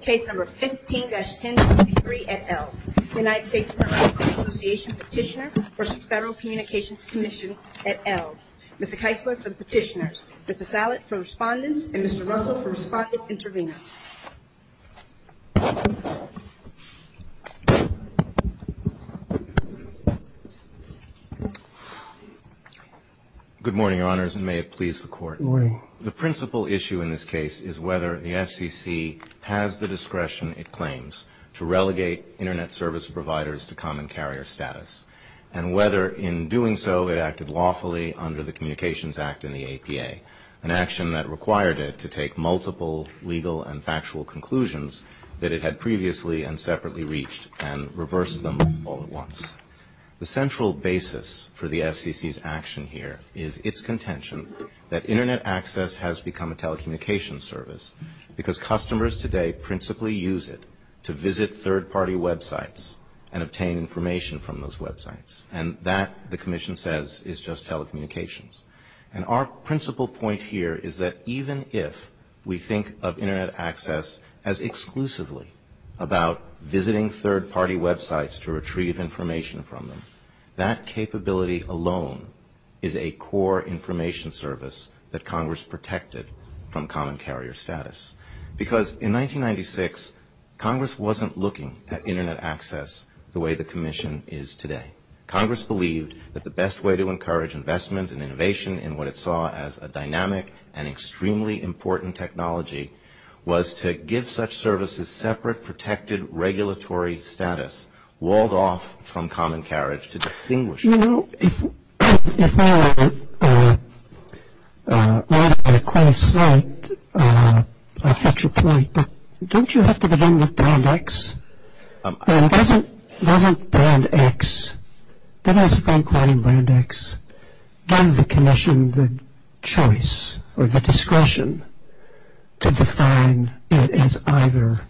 Case No. 15-1023 at L. United States Telecom Association Petitioner v. Federal Communications Commission at L. Mr. Keisler for the Petitioners, Mr. Sallet for Respondents, and Mr. Rosa for Respondent Intervenors. Good morning, Your Honors, and may it please the Court. Good morning. The principal issue in this case is whether the FCC has the discretion it claims to relegate Internet service providers to common carrier status, and whether in doing so it acted lawfully under the Communications Act and the APA, an action that required it to take multiple legal and factual conclusions that it had previously and separately reached and reverse them all at once. The central basis for the FCC's action here is its contention that Internet access has become a telecommunications service because customers today principally use it to visit third-party websites and obtain information from those websites. And that, the Commission says, is just telecommunications. And our principal point here is that even if we think of Internet access as exclusively about visiting third-party websites to retrieve information from them, that capability alone is a core information service that Congress protected from common carrier status. Because in 1996, Congress wasn't looking at Internet access the way the Commission is today. Congress believed that the best way to encourage investment and innovation in what it saw as a dynamic and extremely important technology was to give such services separate, protected, regulatory status, walled off from common carriage to distinguish between them. You know, if I were to quote a quote from Fletcher Perry, don't you have to begin with Band X? Doesn't Band X, doesn't the Commission have the choice or the discretion to define it as either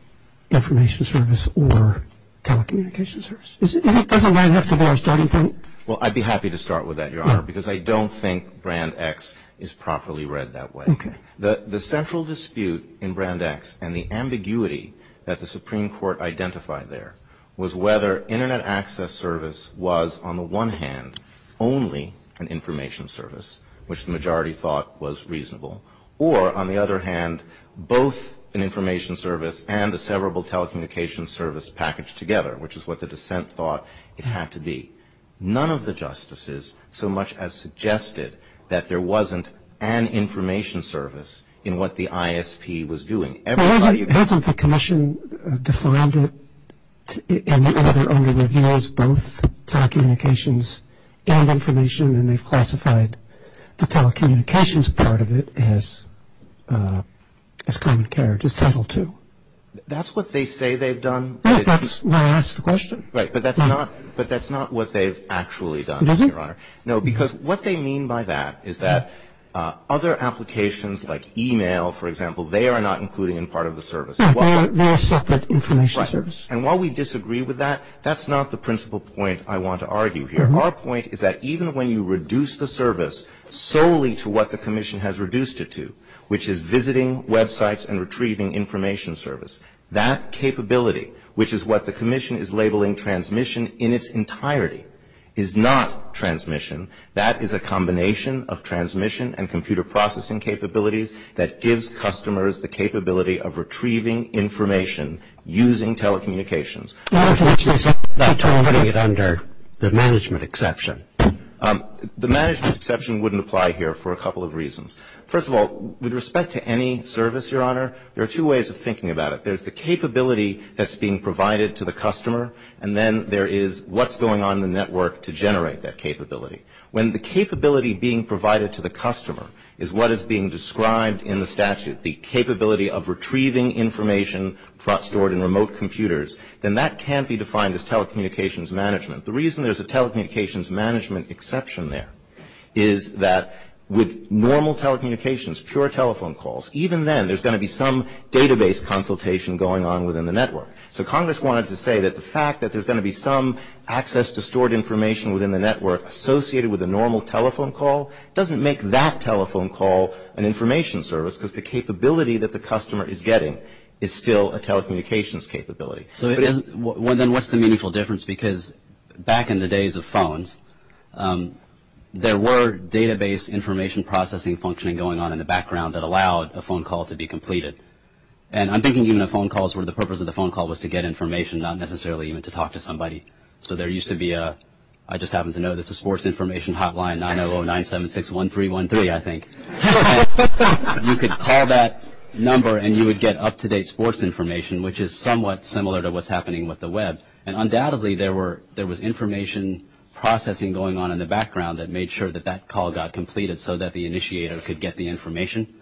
information service or telecommunications service? Doesn't that have to be our starting point? Well, I'd be happy to start with that, Your Honor, because I don't think Band X is properly read that way. The central dispute in Band X and the ambiguity that the Supreme Court identified there was whether Internet access service was, on the one hand, only an information service, which the majority thought was reasonable, or, on the other hand, both an information service and a severable telecommunications service packaged together, which is what the dissent thought it had to be. None of the justices so much as suggested that there wasn't an information service in what the ISP was doing. Hasn't the Commission defined it in their own review as both telecommunications and information, and they've classified the telecommunications part of it as common carriage, as Title II? That's what they say they've done. Right, but that's not what they've actually done, Your Honor. No, because what they mean by that is that other applications like e-mail, for example, they are not included in part of the service. They are separate information services. And while we disagree with that, that's not the principal point I want to argue here. Our point is that even when you reduce the service solely to what the Commission has reduced it to, which is visiting websites and retrieving information service, that capability, which is what the Commission is labeling transmission in its entirety, is not transmission. That is a combination of transmission and computer processing capabilities that gives customers the capability of retrieving information using telecommunications. Not terminating it under the management exception. The management exception wouldn't apply here for a couple of reasons. First of all, with respect to any service, Your Honor, there are two ways of thinking about it. There's the capability that's being provided to the customer and then there is what's going on in the network to generate that capability. When the capability being provided to the customer is what is being described in the statute, the capability of retrieving information stored in remote computers, then that can't be defined as telecommunications management. The reason there's a telecommunications management exception there is that with normal telecommunications, pure telephone calls, even then there's going to be some database consultation going on within the network. So Congress wanted to say that the fact that there's going to be some access to stored information within the network associated with a normal telephone call doesn't make that telephone call an information service because the capability that the customer is getting is still a telecommunications capability. So then what's the meaningful difference? Because back in the days of phones, there were database information processing functioning going on in the background that allowed a phone call to be completed. And I'm thinking even of phone calls where the purpose of the phone call was to get information, not necessarily even to talk to somebody. So there used to be a, I just happen to know this, a sports information hotline, 900-976-1313, I think. And you could call that number and you would get up-to-date sports information, which is somewhat similar to what's happening with the web. And undoubtedly there was information processing going on in the background that made sure that that call got completed so that the initiator could get the information.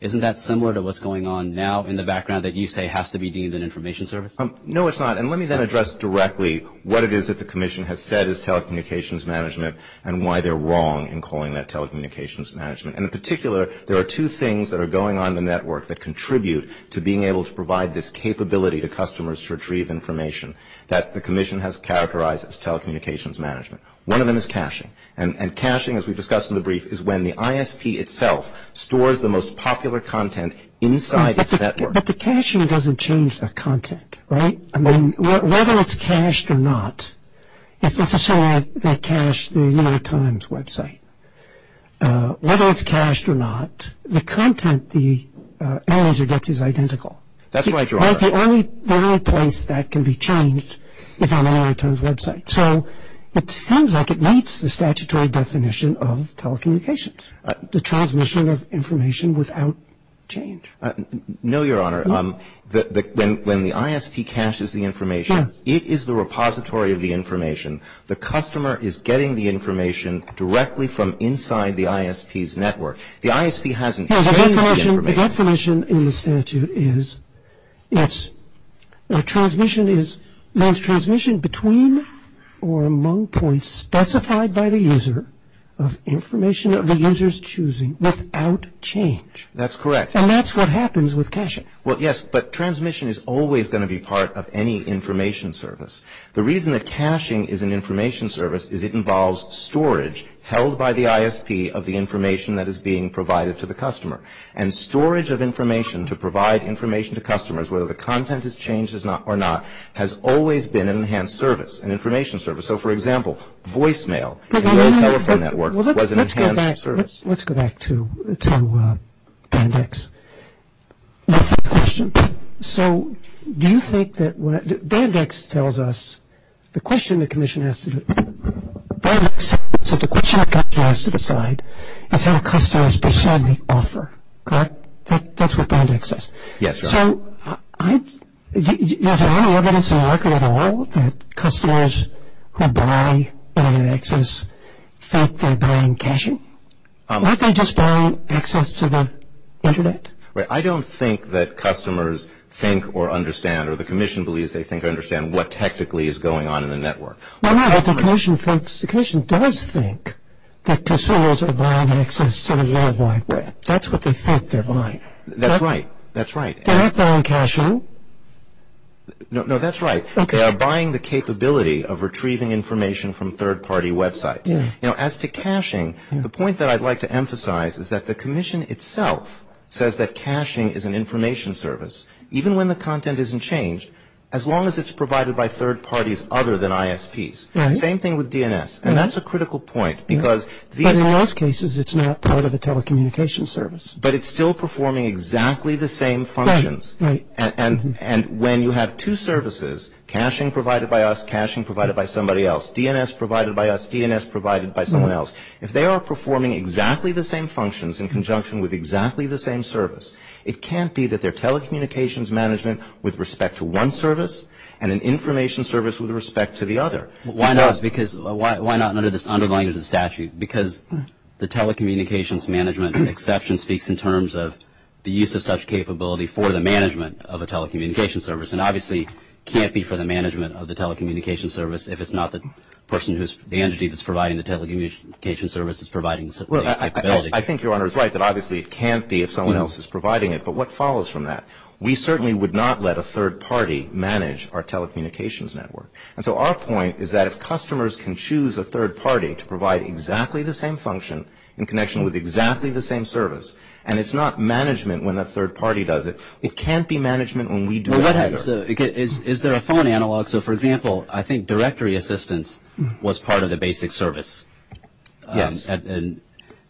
Isn't that similar to what's going on now in the background that you say has to be deemed an information service? No, it's not. And let me then address directly what it is that the Commission has said is telecommunications management and why they're wrong in calling that telecommunications management. And in particular, there are two things that are going on in the network that contribute to being able to provide this capability to customers to retrieve information that the Commission has characterized as telecommunications management. One of them is caching. And caching, as we discussed in the brief, is when the ISP itself stores the most popular content inside its network. But the caching doesn't change the content, right? I mean, whether it's cached or not, let's just say I cached the New York Times website. Whether it's cached or not, the content, the analytics is identical. That's right, Gerard. The only place that can be changed is on a New York Times website. So it sounds like it makes the statutory definition of telecommunications, the transmission of information without change. No, Your Honor. When the ISP caches the information, it is the repository of the information. The customer is getting the information directly from inside the ISP's network. The ISP hasn't cached the information. The definition in the statute is that transmission is transmission between or among points specified by the user of information that the user is choosing without change. That's correct. And that's what happens with caching. Well, yes, but transmission is always going to be part of any information service. The reason that caching is an information service is it involves storage held by the ISP of the information that is being provided to the customer. And storage of information to provide information to customers, whether the content is changed or not, has always been an enhanced service, an information service. So, for example, voicemail in a telephone network was an enhanced service. Let's go back to BANDEX. So do you think that BANDEX tells us the question the commission has to decide is how customers perceive the offer? That's what BANDEX says. Yes. So is there any evidence in the market at all that customers who buy BANDEXs think they're buying caching? Aren't they just buying access to the Internet? I don't think that customers think or understand or the commission believes they think or understand what technically is going on in the network. Well, no, the commission does think that customers are buying access to the Internet. That's what they think they're buying. That's right. They're not buying caching. No, that's right. They are buying the capability of retrieving information from third-party websites. Now, as to caching, the point that I'd like to emphasize is that the commission itself says that caching is an information service. Even when the content isn't changed, as long as it's provided by third parties other than ISPs. Same thing with DNS. And that's a critical point because... But in most cases, it's not part of the telecommunication service. But it's still performing exactly the same functions. Right. And when you have two services, caching provided by us, caching provided by somebody else, DNS provided by us, DNS provided by someone else, if they are performing exactly the same functions in conjunction with exactly the same service, it can't be that they're telecommunications management with respect to one service and an information service with respect to the other. Why not? Because why not under the statute? Because the telecommunications management exception speaks in terms of the use of such capability for the management of a telecommunications service. And obviously, it can't be for the management of the telecommunications service if it's not the entity that's providing the telecommunications service is providing such capability. Well, I think Your Honor is right that obviously it can't be if someone else is providing it. But what follows from that? We certainly would not let a third party manage our telecommunications network. And so our point is that if customers can choose a third party to provide exactly the same function in connection with exactly the same service, and it's not management when a third party does it, it can't be management when we do it. Is there a phone analog? So, for example, I think directory assistance was part of the basic service. Yes.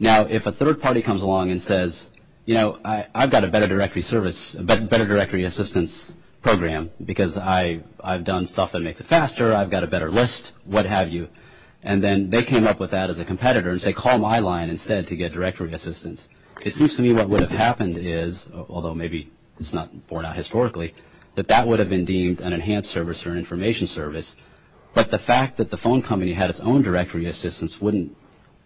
Now, if a third party comes along and says, you know, I've got a better directory service, a better directory assistance program because I've done stuff that makes it faster, I've got a better list, what have you, and then they came up with that as a competitor and say call my line instead to get directory assistance. It seems to me what would have happened is, although maybe it's not borne out historically, that that would have been deemed an enhanced service or an information service. But the fact that the phone company had its own directory assistance wouldn't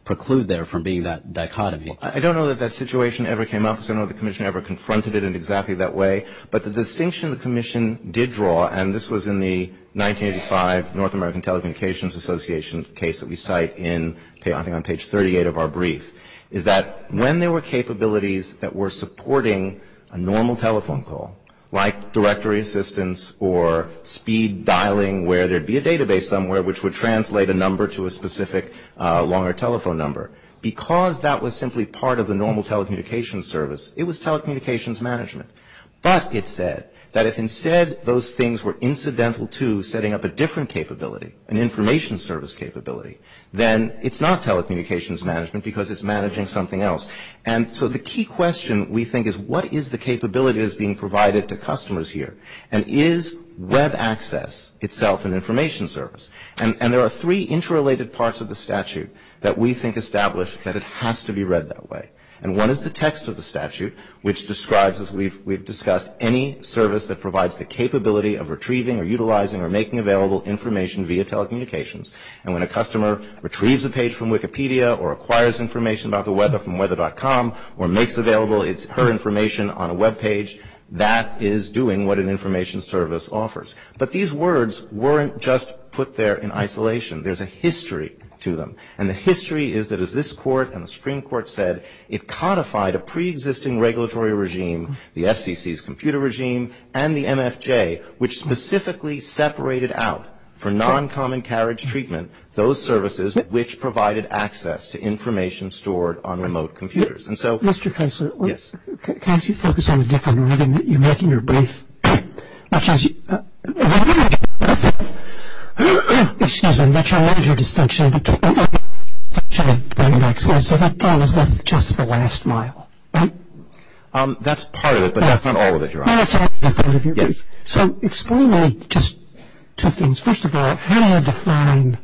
preclude there from being that dichotomy. I don't know that that situation ever came up. I don't know if the Commission ever confronted it in exactly that way. But the distinction the Commission did draw, and this was in the 1985 North American Telecommunications Association case that we cite in, I think on page 38 of our brief, is that when there were capabilities that were supporting a normal telephone call, like directory assistance or speed dialing where there'd be a database somewhere which would translate a number to a specific longer telephone number, because that was simply part of the normal telecommunications service, it was telecommunications management. But it said that if instead those things were incidental to setting up a different capability, an information service capability, then it's not telecommunications management because it's managing something else. And so the key question, we think, is what is the capability that's being provided to customers here? And is web access itself an information service? And there are three interrelated parts of the statute that we think establish that it has to be read that way. And one is the text of the statute, which describes, as we've discussed, any service that provides the capability of retrieving or utilizing or making available information via telecommunications. And when a customer retrieves a page from Wikipedia or acquires information about the weather from weather.com or makes available her information on a webpage, that is doing what an information service offers. But these words weren't just put there in isolation. There's a history to them. And the history is that as this court and the Supreme Court said, it codified a preexisting regulatory regime, the FCC's computer regime, and the MFJ, which specifically separated out for non-common carriage treatment those services which provided access to information stored on remote computers. And so, yes. Mr. Kessler, can I ask you to focus on the different way that you're making your brief? Excuse me. That's a major dysfunction. So that part is not just the last mile, right? That's part of it, but that's not all of it, Your Honor. So explain just two things. First of all, how do you define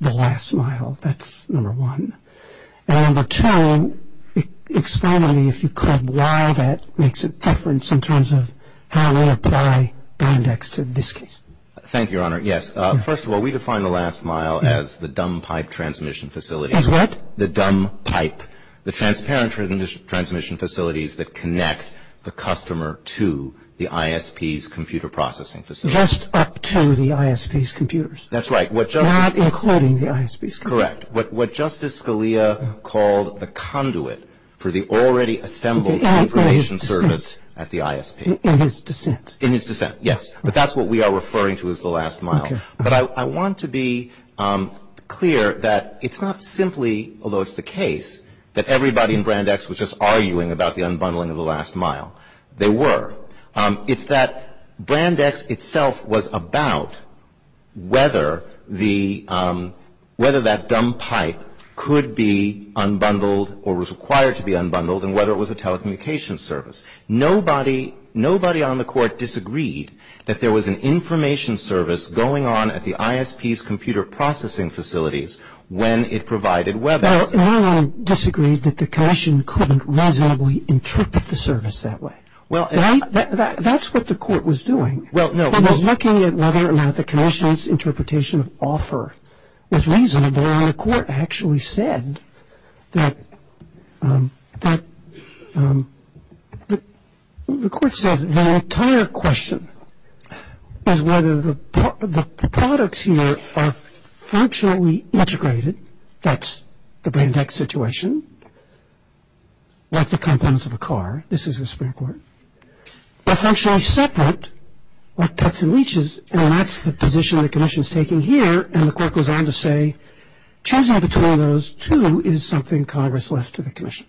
the last mile? That's number one. And number two, explain to me, if you could, why that makes a difference in terms of how we apply Band X in this case. Thank you, Your Honor. Yes. First of all, we define the last mile as the dumb pipe transmission facility. As what? The dumb pipe. The transparent transmission facilities that connect the customer to the ISP's computer processing facility. Just up to the ISP's computers. That's right. Not including the ISP's computers. Correct. What Justice Scalia called the conduit for the already assembled information service at the ISP. In his dissent. In his dissent, yes. But that's what we are referring to as the last mile. But I want to be clear that it's not simply, although it's the case, that everybody in Brand X was just arguing about the unbundling of the last mile. They were. It's that Brand X itself was about whether that dumb pipe could be unbundled or was required to be unbundled and whether it was a telecommunications service. Nobody on the court disagreed that there was an information service going on at the ISP's computer processing facilities when it provided WebEx. No one disagreed that the commission couldn't reasonably interpret the service that way. That's what the court was doing. It was looking at whether or not the commission's interpretation of offer was reasonable and the court actually said that the entire question of whether the products here are functionally integrated. That's the Brand X situation. That's the components of a car. This is a spare part. They're functionally separate. They're cuts and leaches and that's the position the commission's taking here and the court goes on to say choosing between those two is something Congress left to the commission.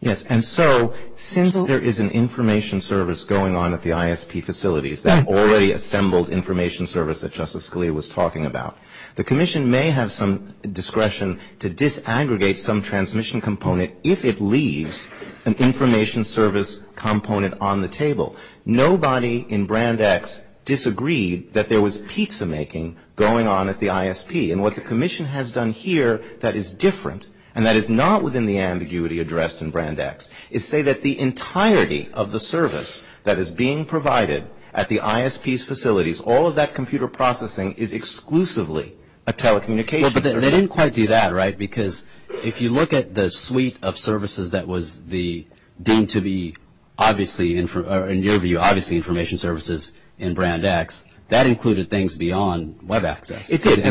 Yes, and so since there is an information service going on at the ISP facilities that already assembled information service that Justice Scalia was talking about, the commission may have some discretion to disaggregate some transmission component if it leaves an information service component on the table. Nobody in Brand X disagreed that there was pizza making going on at the ISP and what the commission has done here that is different and that is not within the ambiguity addressed in Brand X is say that the entirety of the service that is being provided at the ISP's facilities, all of that computer processing is exclusively a telecommunications service. They didn't quite do that, right, because if you look at the suite of services that was deemed to be obviously or in your view obviously information services in Brand X, that included things beyond Web access. It did.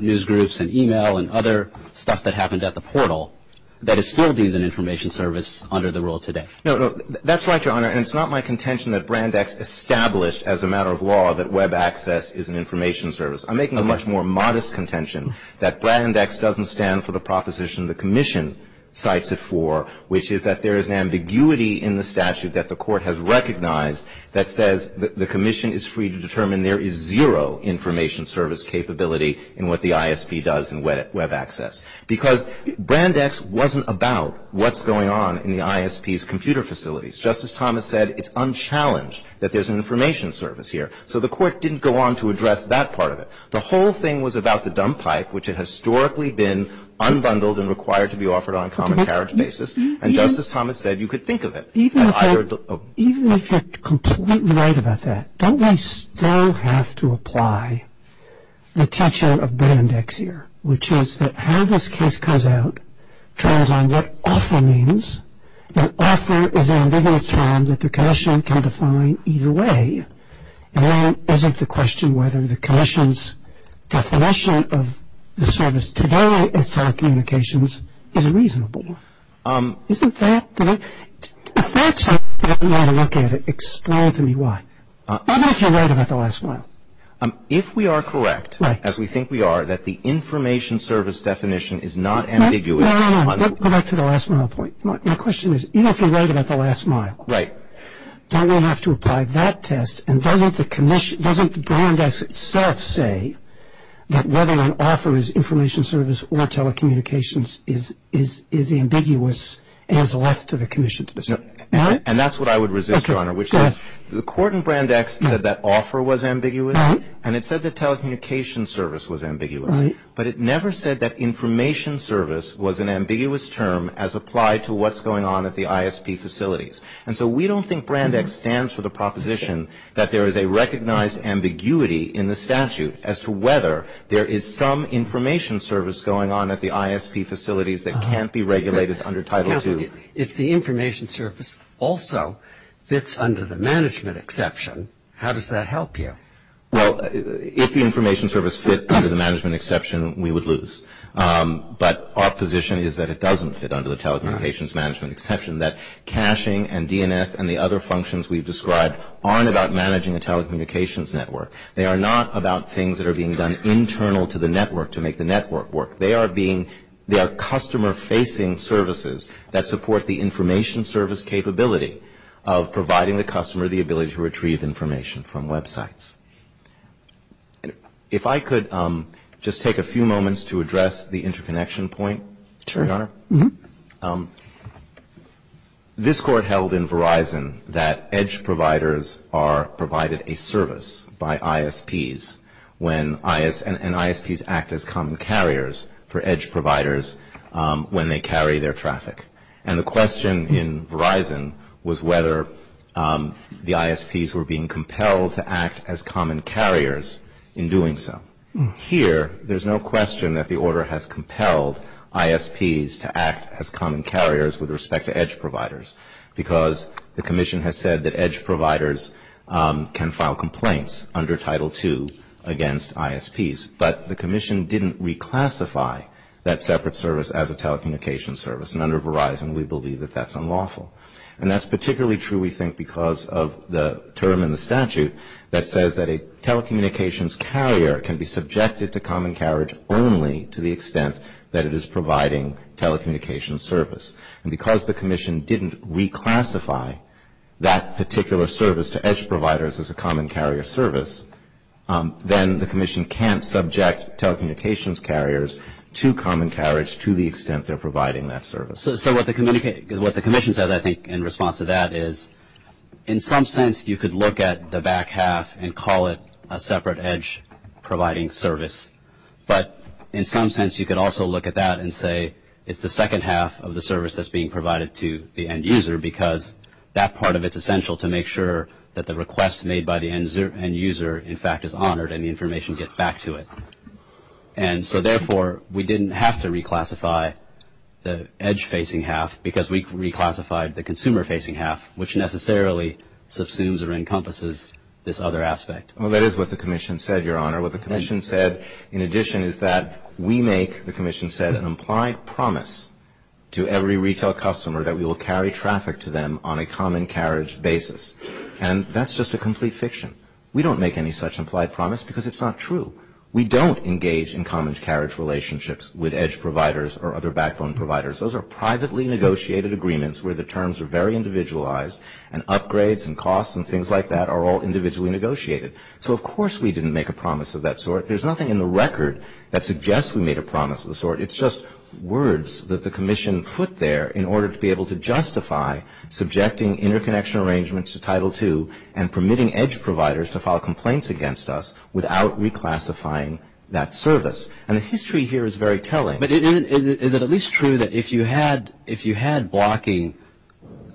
News groups and e-mail and other stuff that happened at the portal that is still deemed an information service under the rule today. No, that's right, Your Honor, and it's not my contention that Brand X established as a matter of law that Web access is an information service. I'm making a much more modest contention that Brand X doesn't stand for the proposition the commission cites it for, which is that there is an ambiguity in the statute that the court has recognized that says the commission is free to determine there is zero information service capability in what the ISP does in Web access because Brand X wasn't about what's going on in the ISP's computer facilities. Justice Thomas said it's unchallenged that there's an information service here, so the court didn't go on to address that part of it. The whole thing was about the dump pipe, which had historically been unbundled and required to be offered on a common carriage basis, and Justice Thomas said you could think of it. Even if you're completely right about that, don't we still have to apply the tension of Brand X here, which is that how this case comes out depends on what offer means and offer is an ambiguity term that the commission can define either way and isn't the question whether the commission's definition of the service today in telecommunications is reasonable. Isn't that the way? If that's how you want to look at it, explain to me why. Even if you're right about the last mile. If we are correct, as we think we are, that the information service definition is not ambiguous. No, no, no, go back to the last mile point. My question is, even if you're right about the last mile, don't we have to apply that test and doesn't the Brand X itself say that whether an offer is information service or telecommunications is ambiguous as left to the commission to decide? And that's what I would resist, Your Honor, which is the court in Brand X said that offer was ambiguous and it said that telecommunications service was ambiguous, but it never said that information service was an ambiguous term as applied to what's going on at the ISP facilities. And so we don't think Brand X stands for the proposition that there is a recognized ambiguity in the statute as to whether there is some information service going on at the ISP facilities that can't be regulated under Title II. If the information service also fits under the management exception, how does that help you? Well, if the information service fits under the management exception, we would lose. But our position is that it doesn't fit under the telecommunications management exception, that caching and DNS and the other functions we've described aren't about managing the telecommunications network. They are not about things that are being done internal to the network to make the network work. They are customer-facing services that support the information service capability of providing the customer the ability to retrieve information from websites. If I could just take a few moments to address the interconnection point. Sure. This court held in Verizon that EDGE providers are provided a service by ISPs and ISPs act as common carriers for EDGE providers when they carry their traffic. And the question in Verizon was whether the ISPs were being compelled to act as common carriers in doing so. Here, there's no question that the order has compelled ISPs to act as common carriers with respect to EDGE providers because the commission has said that EDGE providers can file complaints under Title II against ISPs. But the commission didn't reclassify that separate service as a telecommunications service. And under Verizon, we believe that that's unlawful. And that's particularly true, we think, because of the term in the statute that says that a telecommunications carrier can be subjected to common carriage only to the extent that it is providing telecommunications service. And because the commission didn't reclassify that particular service to EDGE providers as a common carrier service, then the commission can't subject telecommunications carriers to common carriage to the extent they're providing that service. So what the commission said, I think, in response to that is, in some sense, you could look at the back half and call it a separate EDGE providing service. But in some sense, you could also look at that and say, it's the second half of the service that's being provided to the end user because that part of it's essential to make sure that the request made by the end user, in fact, is honored and the information gets back to it. And so, therefore, we didn't have to reclassify the EDGE facing half because we reclassified the consumer facing half, which necessarily subsumes or encompasses this other aspect. Well, that is what the commission said, Your Honor. What the commission said, in addition, is that we make, the commission said, an implied promise to every retail customer that we will carry traffic to them on a common carriage basis. And that's just a complete fiction. We don't make any such implied promise because it's not true. We don't engage in common carriage relationships with EDGE providers or other backbone providers. Those are privately negotiated agreements where the terms are very individualized and upgrades and costs and things like that are all individually negotiated. So, of course, we didn't make a promise of that sort. There's nothing in the record that suggests we made a promise of the sort. It's just words that the commission put there in order to be able to justify subjecting interconnection arrangements to Title II and permitting EDGE providers to file complaints against us without reclassifying that service. And the history here is very telling. But is it at least true that if you had blocking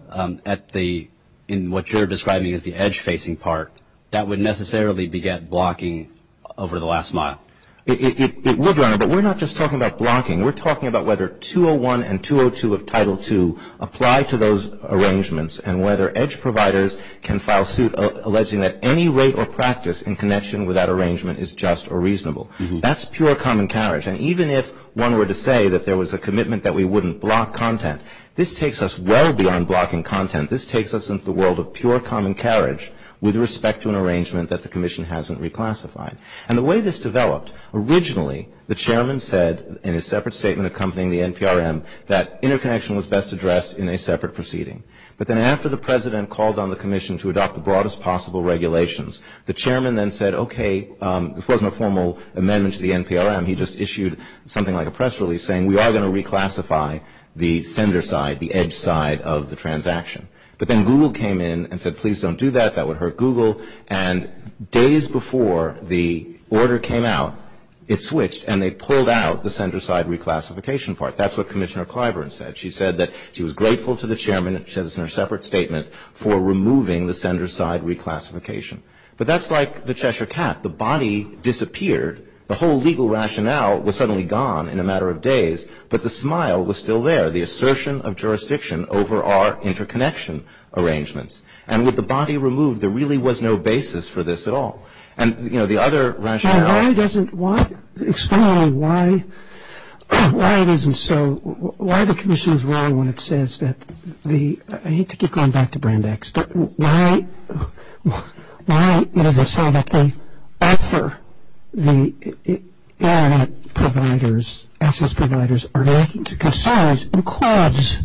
at the, in what you're describing as the EDGE facing part, that would necessarily be blocking over the last month? It would, Your Honor, but we're not just talking about blocking. We're talking about whether 201 and 202 of Title II apply to those arrangements and whether EDGE providers can file suit alleging that any rate or practice in connection with that arrangement is just or reasonable. That's pure common carriage. And even if one were to say that there was a commitment that we wouldn't block content, this takes us well beyond blocking content. This takes us into the world of pure common carriage with respect to an arrangement that the commission hasn't reclassified. And the way this developed, originally the chairman said in a separate statement accompanying the NPRM that interconnection was best addressed in a separate proceeding. But then after the president called on the commission to adopt the broadest possible regulations, the chairman then said, okay, this wasn't a formal amendment to the NPRM. He just issued something like a press release saying we are going to reclassify the sender side, the EDGE side of the transaction. But then Google came in and said, please don't do that. That would hurt Google. And days before the order came out, it switched, and they pulled out the sender side reclassification part. That's what Commissioner Clyburn said. She said that she was grateful to the chairman in her separate statement for removing the sender side reclassification. But that's like the Cheshire cat. The body disappeared. The whole legal rationale was suddenly gone in a matter of days, but the smile was still there, the assertion of jurisdiction over our interconnection arrangements. And with the body removed, there really was no basis for this at all. And, you know, the other rationale... Why doesn't, why, explain why, why it isn't so, why the commission's role when it says that the, I hate to keep going back to Brand X, but why, you know, they say that they offer the Internet providers, access providers are looking to consolidate and cause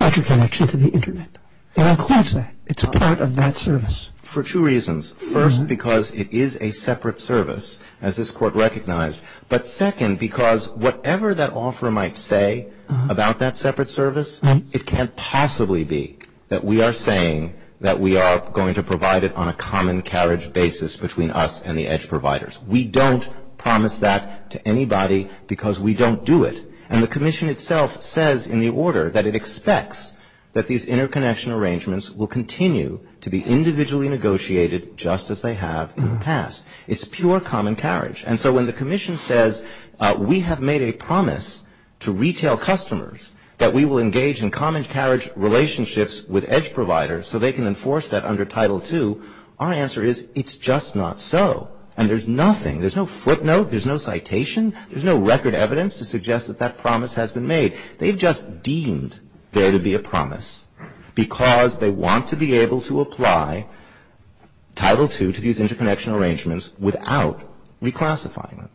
interconnection to the Internet. They don't cause that. It's part of that service. For two reasons. First, because it is a separate service, as this court recognized. But second, because whatever that offer might say about that separate service, it can't possibly be that we are saying that we are going to provide it on a common carriage basis between us and the edge providers. We don't promise that to anybody because we don't do it. And the commission itself says in the order that it expects that these interconnection arrangements will continue to be individually negotiated just as they have in the past. It's pure common carriage. And so when the commission says we have made a promise to retail customers that we will engage in common carriage relationships with edge providers so they can enforce that under Title II, our answer is it's just not so. And there's nothing. There's no footnote. There's no citation. There's no record evidence to suggest that that promise has been made. They've just deemed there to be a promise because they want to be able to apply Title II to these interconnection arrangements without reclassifying them.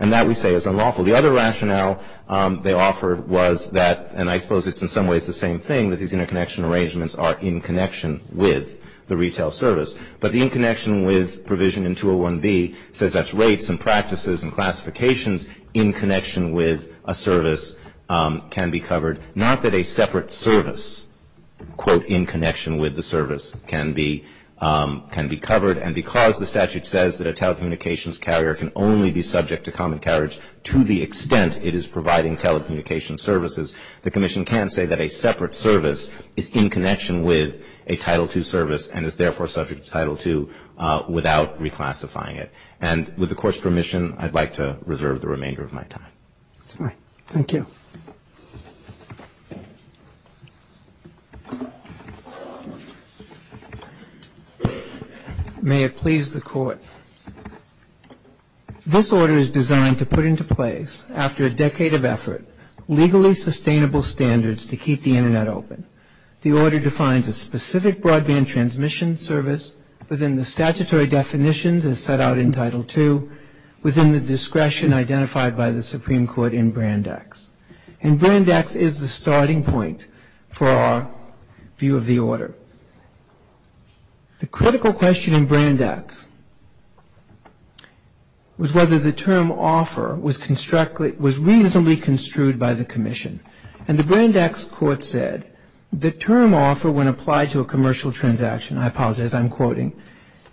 And that, we say, is unlawful. The other rationale they offered was that, and I suppose it's in some ways the same thing, that these interconnection arrangements are in connection with the retail service. But the in connection with provision in 201B says that's rates and practices and classifications in connection with a service can be covered. Not that a separate service, quote, in connection with the service can be covered. And because the statute says that a telecommunications carrier can only be subject to common carriage to the extent it is providing telecommunications services, the commission can say that a separate service is in connection with a Title II service and is therefore subject to Title II without reclassifying it. And with the Court's permission, I'd like to reserve the remainder of my time. All right. Thank you. May it please the Court. This order is designed to put into place, after a decade of effort, legally sustainable standards to keep the Internet open. The order defines a specific broadband transmission service within the statutory definitions as set out in Title II, within the discretion identified by the Supreme Court in Brand X. And Brand X is the starting point for our view of the order. The critical question in Brand X was whether the term offer was reasonably construed by the commission. And the Brand X Court said the term offer, when applied to a commercial transaction, I apologize, I'm quoting,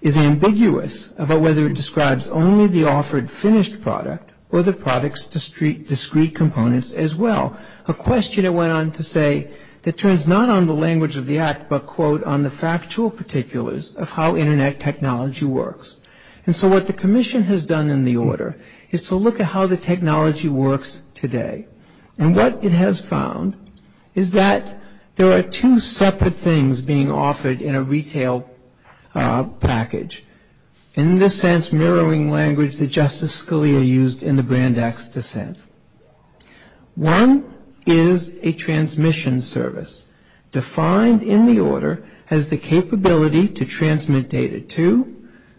is ambiguous about whether it describes only the offered finished product or the product's discrete components as well, a question it went on to say that turns not on the language of the Act but, quote, on the factual particulars of how Internet technology works. And so what the commission has done in the order is to look at how the technology works today. And what it has found is that there are two separate things being offered in a retail package. In this sense, mirroring language that Justice Scalia used in the Brand X dissent. One is a transmission service defined in the order as the capability to transmit data to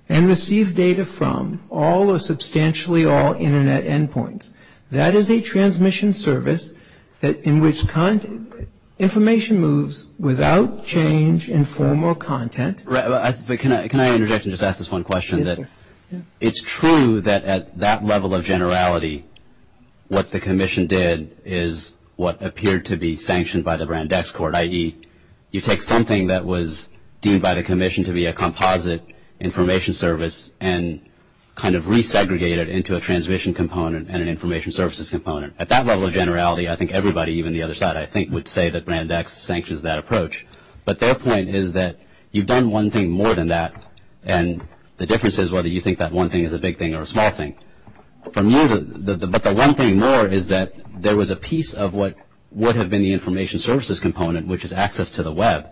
and receive data from all or substantially all Internet endpoints. That is a transmission service in which information moves without change in form or content. But can I interject and just ask this one question? It's true that at that level of generality, what the commission did is what appeared to be sanctioned by the Brand X Court, i.e., you take something that was deemed by the commission to be a composite information service and kind of resegregate it into a transmission component and an information services component. At that level of generality, I think everybody, even the other side I think, would say that Brand X sanctions that approach. But their point is that you've done one thing more than that and the difference is whether you think that one thing is a big thing or a small thing. But the one thing more is that there was a piece of what would have been the information services component, which is access to the Web,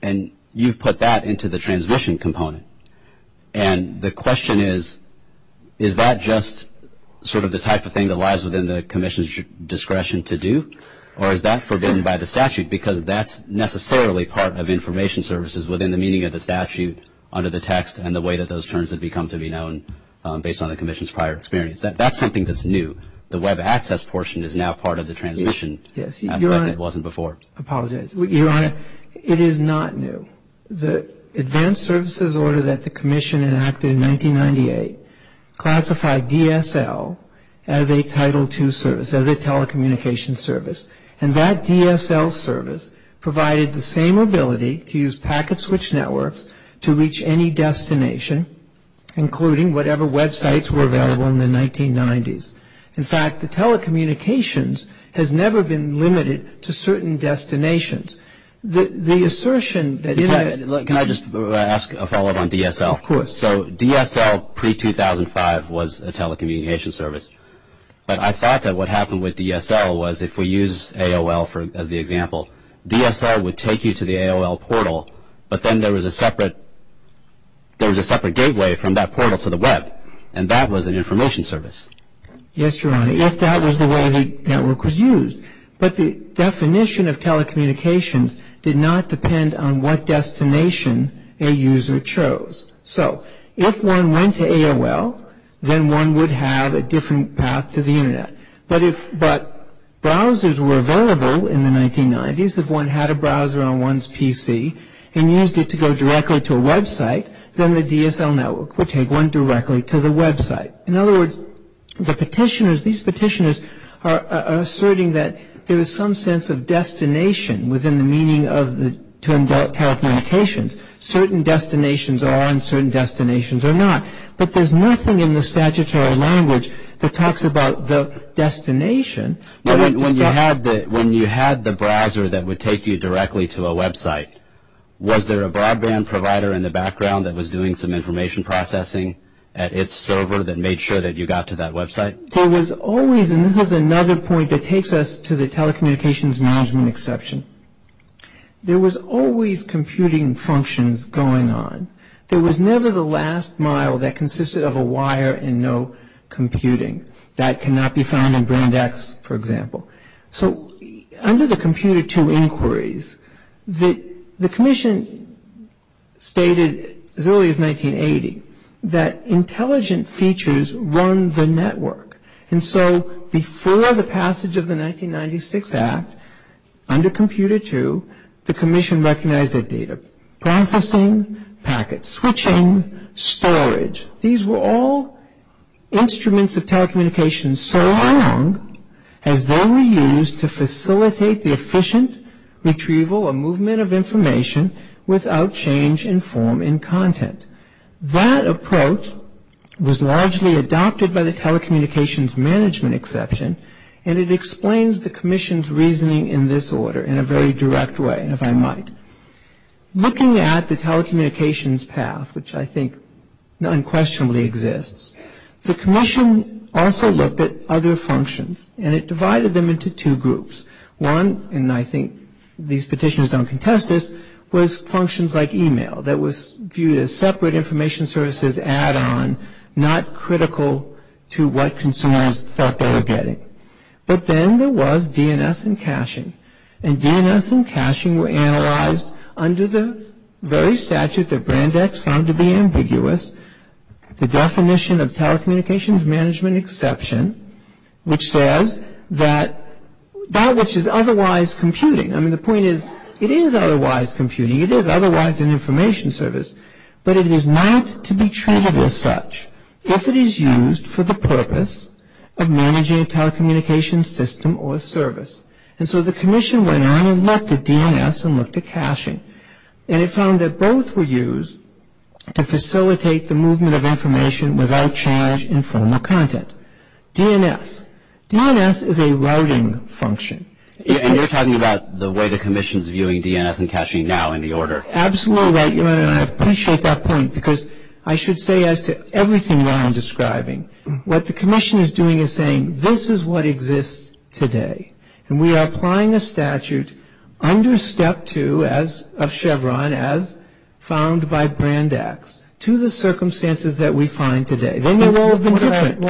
and you've put that into the transmission component. And the question is, is that just sort of the type of thing that lies within the commission's discretion to do, or is that forbidden by the statute because that's necessarily part of information services within the meaning of the statute under the text and the way that those terms have become to be known based on the commission's prior experience? That's something that's new. The Web access portion is now part of the transmission. Yes. It wasn't before. I apologize. Your Honor, it is not new. The advanced services order that the commission enacted in 1998 classified DSL as a Title II service, as a telecommunications service. And that DSL service provided the same ability to use packet switch networks to reach any destination, including whatever Web sites were available in the 1990s. In fact, the telecommunications has never been limited to certain destinations. The assertion that you have – Can I just ask a follow-up on DSL? Of course. So DSL pre-2005 was a telecommunications service. But I thought that what happened with DSL was if we use AOL as the example, DSL would take you to the AOL portal, but then there was a separate gateway from that portal to the Web, and that was an information service. Yes, Your Honor. Yes, that was the way the network was used. But the definition of telecommunications did not depend on what destination a user chose. So if one went to AOL, then one would have a different path to the Internet. But browsers were available in the 1990s if one had a browser on one's PC and used it to go directly to a Web site, then the DSL network would take one directly to the Web site. In other words, the petitioners – these petitioners are asserting that there is some sense of destination within the meaning of the term telecommunications. Certain destinations are on certain destinations or not. But there's nothing in the statutory language that talks about the destination. When you had the browser that would take you directly to a Web site, was there a broadband provider in the background that was doing some information processing at its server that made sure that you got to that Web site? There was always – and this is another point that takes us to the telecommunications management exception. There was always computing functions going on. There was never the last mile that consisted of a wire and no computing. That cannot be found in Boondocks, for example. So under the Computer II inquiries, the Commission stated as early as 1980 that intelligent features run the network. And so before the passage of the 1996 Act, under Computer II, the Commission recognized that data processing, packets, switching, storage. These were all instruments of telecommunications so long as they were used to facilitate the efficient retrieval or movement of information without change in form in content. That approach was largely adopted by the telecommunications management exception and it explains the Commission's reasoning in this order in a very direct way, if I might. Looking at the telecommunications path, which I think unquestionably exists, the Commission also looked at other functions and it divided them into two groups. One, and I think these petitions don't contest this, was functions like email that was viewed as separate information services add-on, not critical to what consumers thought they were getting. But then there was DNS and caching. And DNS and caching were analyzed under the very statute that Brandeis found to be ambiguous, the definition of telecommunications management exception, which says that that which is otherwise computing. I mean, the point is it is otherwise computing, it is otherwise an information service, but it is not to be treated as such if it is used for the purpose of managing a telecommunications system or service. And so the Commission went on and looked at DNS and looked at caching and it found that both were used to facilitate the movement of information without change in form or content. DNS. DNS is a routing function. And you're talking about the way the Commission is viewing DNS and caching now in the order. Absolutely. I appreciate that point because I should say as to everything that I'm describing, what the Commission is doing is saying this is what exists today. And we are applying a statute under Step 2 of Chevron as found by Brandeis to the circumstances that we find today. What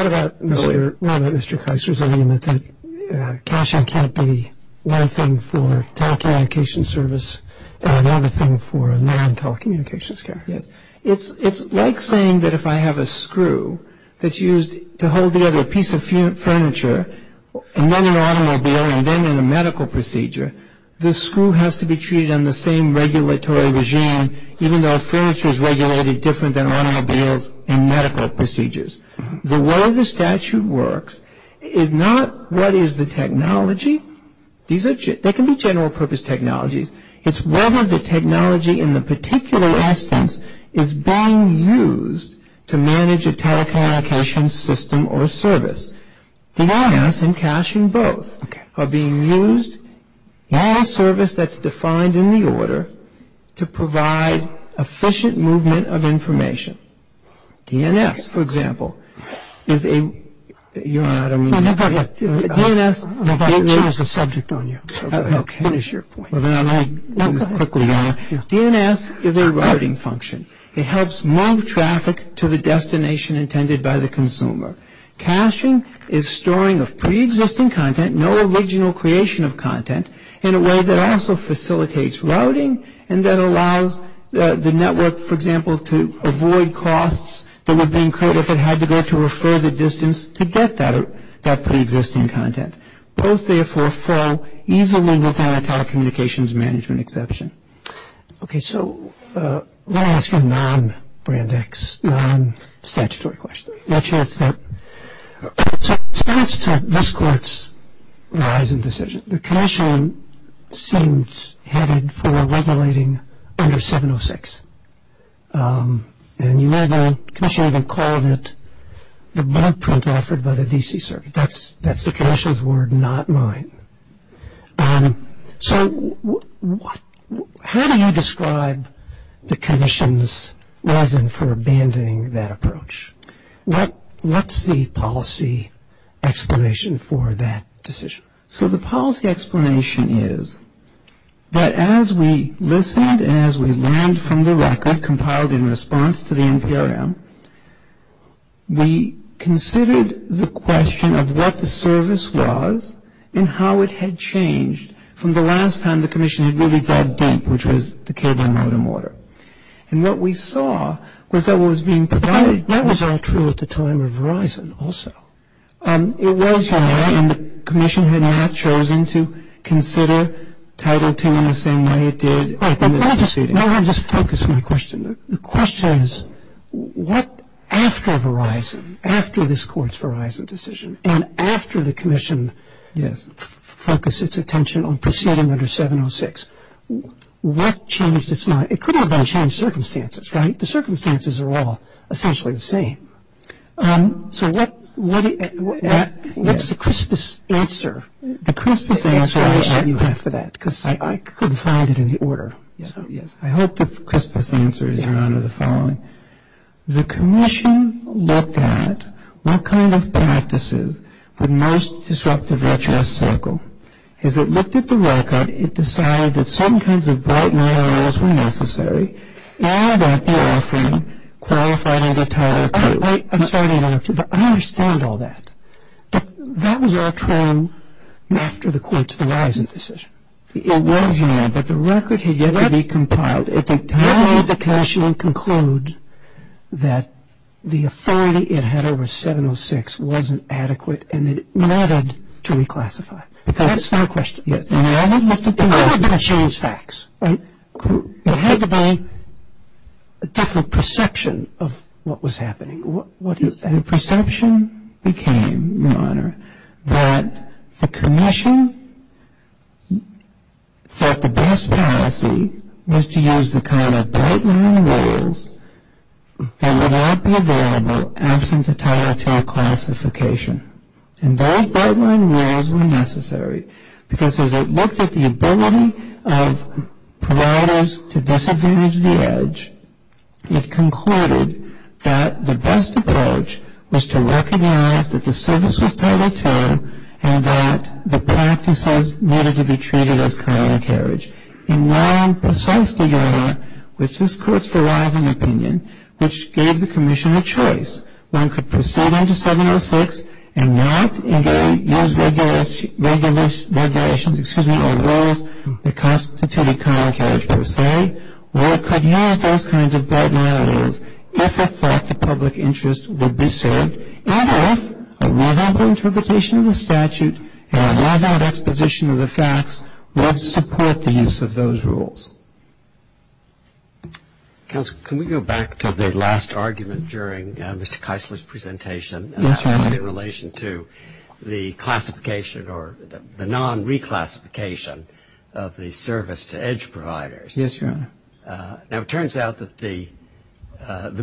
about, Mr. Cox, caching can't be one thing for telecommunications service or another thing for non-telecommunications care? It's like saying that if I have a screw that's used to hold together a piece of furniture and then an automobile and then in a medical procedure, this screw has to be treated in the same regulatory regime, even though furniture is regulated different than automobiles in medical procedures. The way the statute works is not what is the technology. There can be general purpose technologies. It's whether the technology in the particular instance is being used to manage a telecommunications system or service. DNS and caching both are being used by a service that's defined in the order to provide efficient movement of information. DNS, for example, is a writing function. It helps move traffic to the destination intended by the consumer. Caching is storing of preexisting content, no original creation of content, in a way that also facilitates routing and that allows the network, for example, to avoid costs that would be incurred if it had to go to a further distance to get that preexisting content. Both, therefore, fall easily within a telecommunications management exception. Okay, so let me ask you a non-Brandeis, non-statutory question. Stats to this court's rise in decision. The commission seems headed for regulating under 706. And you may know the commission even called it the blood print offered by the D.C. Circuit. That's the commission's word, not mine. So how do you describe the commission's reason for abandoning that approach? What's the policy explanation for that decision? So the policy explanation is that as we listened and as we learned from the record compiled in response to the Imperium, we considered the question of what the service was and how it had changed from the last time the commission had really dug deep, which was the cable and rod and mortar. And what we saw was that what was being provided was not true at the time of Verizon also. It was true and the commission had not chosen to consider Title 10 in the same way it did. Let me just focus my question. The question is what after Verizon, after this court's Verizon decision, and after the commission focused its attention on proceeding under 706, what changed its mind? It could have all changed circumstances, right? The circumstances are all essentially the same. So what's the crispest answer? The crispest answer I have for that because I couldn't find it in the order. I hope the crispest answer is around the following. The commission looked at what kind of practices would most disrupt the VHS cycle. As it looked at the record, it decided that some kinds of bright and early rules were necessary and that the offering qualified under Title 2. I'm sorry to interrupt you, but I understand all that. But that was our turn after the court's Verizon decision. It was your turn. But the record had yet to be compiled. It had to go to the commission and conclude that the authority it had over 706 wasn't adequate and that it mattered to reclassify. That's my question. It had to be a different perception of what was happening. The perception became, Your Honor, that the commission thought the best policy was to use the kind of bright and early rules that would not be available absent the Title 2 classification. And those bright and early rules were necessary because as it looked at the ability of providers to disadvantage the edge, it concluded that the best approach was to recognize that the service was part of its own and that the practices needed to be treated as chronic heritage. And now, precisely, Your Honor, with this court's Verizon opinion, which gave the commission a choice, one could proceed under 706 and not use regulations or rules that constitute chronic heritage per se, or it could use those kinds of bright and early rules if it thought the public interest would be served, and if a reliable interpretation of the statute and a reliable exposition of the facts would support the use of those rules. Counsel, can we go back to the last argument during Mr. Keisler's presentation? Yes, Your Honor. Now, it turns out that the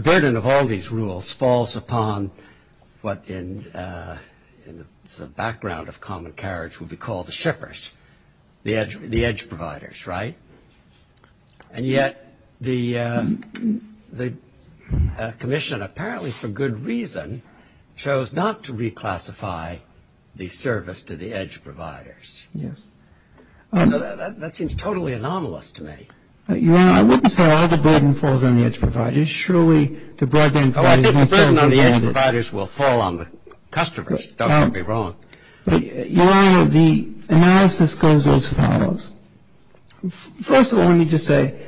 burden of all these rules falls upon what in the background of common carriage would be called the shippers, the edge providers, right? And yet the commission, apparently for good reason, chose not to reclassify the service to the edge providers. Yes. That seems totally anomalous to me. Your Honor, I wouldn't say all the burden falls on the edge providers. Surely the burden on the edge providers will fall on the customers. Don't get me wrong. Your Honor, the analysis goes both ways. First of all, let me just say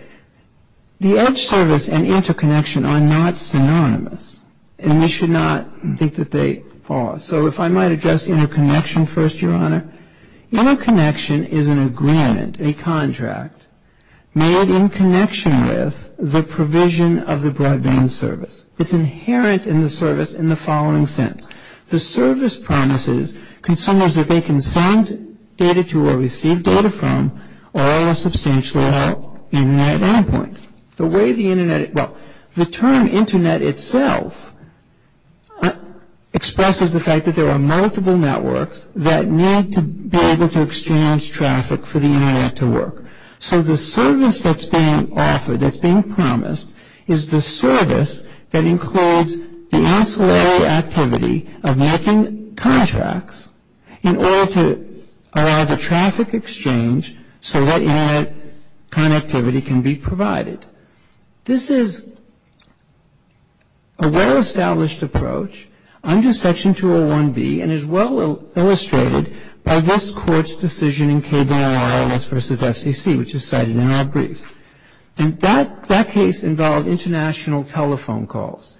the edge service and interconnection are not synonymous, and we should not think that they are. So if I might address interconnection first, Your Honor. Your Honor, interconnection is an agreement, a contract, made in connection with the provision of the broadband service. It's inherent in the service in the following sense. The service promises consumers that they can send data to or receive data from all substantial Internet endpoints. The way the Internet, well, the term Internet itself expresses the fact that there are multiple networks that need to be able to exchange traffic for the Internet to work. So the service that's being offered, that's being promised, is the service that includes the ancillary activity of making contracts in order to allow the traffic exchange so that, you know, connectivity can be provided. This is a well-established approach under Section 201B and is well illustrated by this Court's decision in KBIRLS v. FCC, which is cited in our brief. And that case involved international telephone calls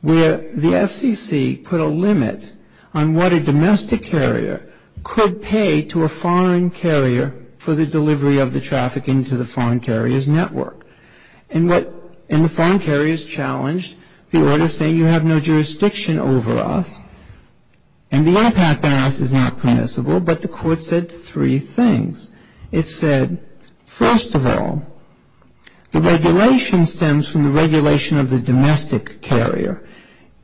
where the FCC put a limit on what a domestic carrier could pay to a foreign carrier for the delivery of the traffic into the foreign carrier's network. And the foreign carriers challenged the order, saying you have no jurisdiction over us. And the impact bias is not permissible, but the Court said three things. It said, first of all, the regulation stems from the regulation of the domestic carrier.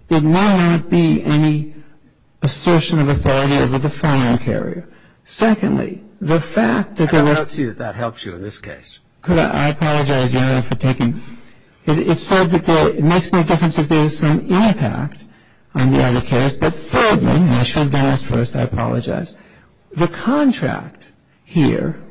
There may not be any assertion of authority over the foreign carrier. Secondly, the fact that there was... I don't see that that helps you in this case. I apologize, Your Honor, for taking... It said that it makes no difference if there is some impact on the other carriers, but thirdly, National Gas First, I apologize, the contract here,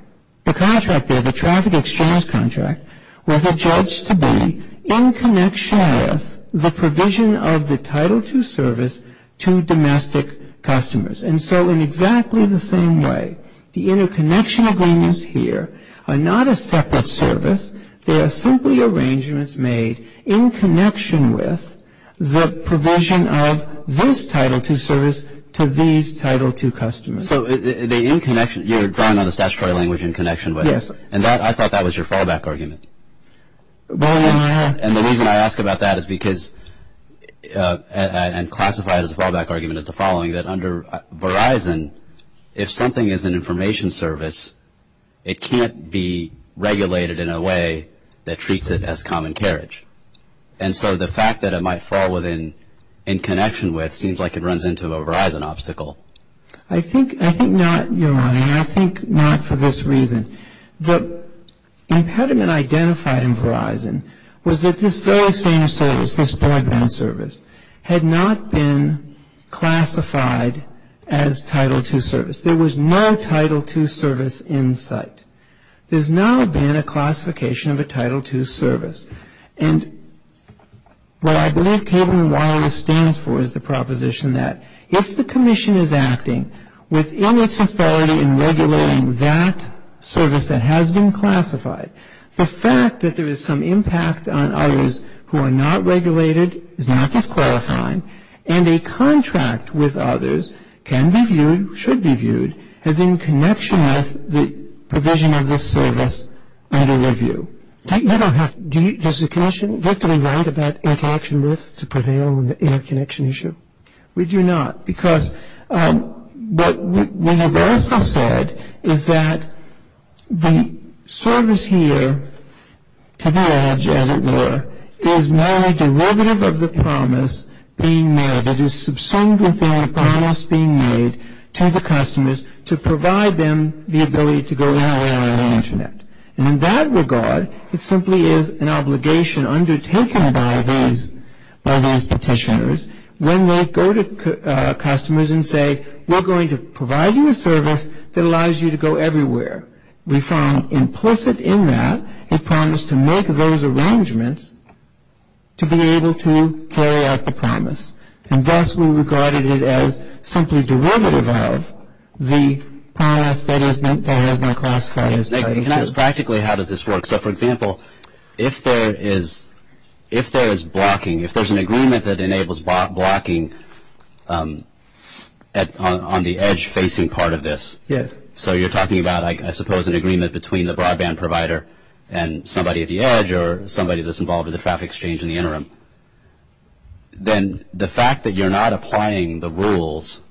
the contract there, the traffic exchange contract, was adjudged to be in connection with the provision of the Title II service to domestic customers. And so in exactly the same way, the interconnection agreements here are not a separate service. They are simply arrangements made in connection with the provision of this Title II service to these Title II customers. So the interconnection, you're drawing on the statutory language in connection with it. And I thought that was your fallback argument. And the reason I ask about that is because, and classified as a fallback argument is the following, that under Verizon, if something is an information service, it can't be regulated in a way that treats it as common carriage. And so the fact that it might fall within in connection with seems like it runs into a Verizon obstacle. I think not, Your Honor. I think not for this reason. But having it identified in Verizon was that this very same service, this broadband service, had not been classified as Title II service. There was no Title II service in sight. There's not been a classification of a Title II service. And what I believe cable and wireless stands for is the proposition that if the commission is acting within its authority in regulating that service that has been classified, the fact that there is some impact on others who are not regulated is not disqualifying, and a contract with others can be viewed, should be viewed, as in connection with the provision of this service under review. Does the commission get the right of that interaction list to prevail in the air connection issue? We do not. Because what we have also said is that the service here to the edge, as it were, is not a derivative of the promise being made. It is subsumed within a promise being made to the customers to provide them the ability to go in and out of the Internet. And in that regard, it simply is an obligation undertaken by these petitioners when they go to customers and say, we're going to provide you a service that allows you to go everywhere. We found implicit in that a promise to make those arrangements to be able to carry out the promise. And thus we regarded it as simply derivative of the promise that has been classified. And that is practically how does this work. So, for example, if there is blocking, if there's an agreement that enables blocking on the edge-facing part of this, so you're talking about, I suppose, an agreement between the broadband provider and somebody at the edge or somebody that's involved in the traffic exchange in the interim, then the fact that you're not applying the rules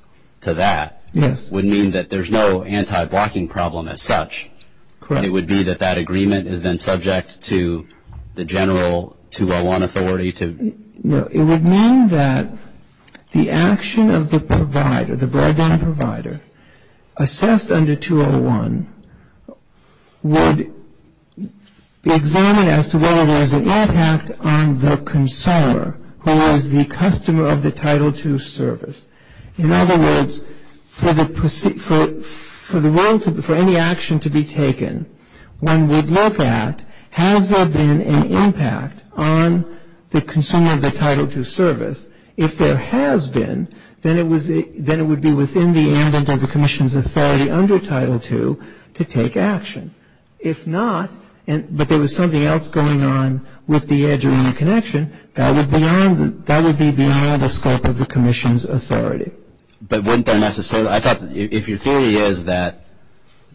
to that would mean that there's no anti-blocking problem as such. Correct. It would be that that agreement is then subject to the general 201 authority to- No, it would mean that the action of the provider, the broadband provider, assessed under 201, would examine as to whether there's an impact on the consumer who is the customer of the Title II service. In other words, for any action to be taken, one would look at, has there been an impact on the consumer of the Title II service? If there has been, then it would be within the ambit of the commission's authority under Title II to take action. If not, but there was something else going on with the edge-only connection, that would be beyond the scope of the commission's authority. But wouldn't that necessarily, I thought, if your theory is that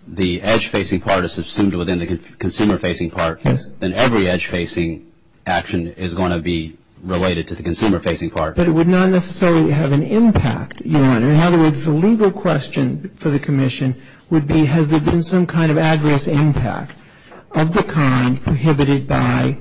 the edge-facing part is assumed within the consumer-facing part, then every edge-facing action is going to be related to the consumer-facing part. But it would not necessarily have an impact, Your Honor. In other words, the legal question for the commission would be, has there been some kind of adverse impact of the kind prohibited by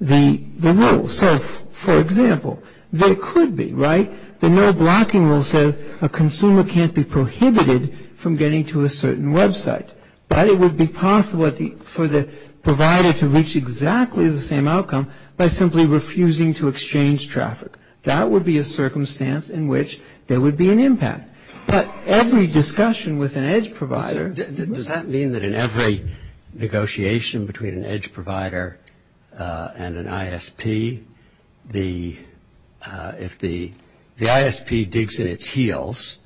the rules? So, for example, there could be, right? The no blocking rule says a consumer can't be prohibited from getting to a certain website. But it would be possible for the provider to reach exactly the same outcome by simply refusing to exchange traffic. That would be a circumstance in which there would be an impact. But every discussion with an edge provider, does that mean that in every negotiation between an edge provider and an ISP, if the ISP digs in its heels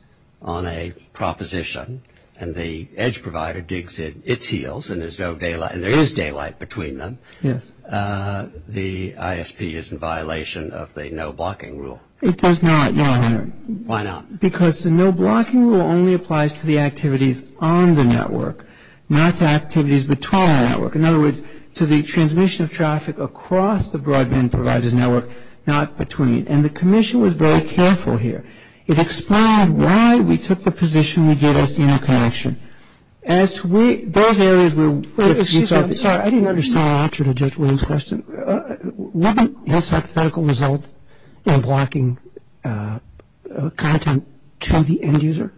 on a proposition and the edge provider digs in its heels, and there is daylight between them, the ISP is in violation of the no blocking rule? It does not, Your Honor. Why not? Because the no blocking rule only applies to the activities on the network, not the activities between the network. In other words, to the transmission of traffic across the broadband provider's network, not between. And the commission was very careful here. It explained why we took the position we did at Senior Connection. Those areas were. I'm sorry. I didn't understand the question. What's the medical result in blocking content from the end user?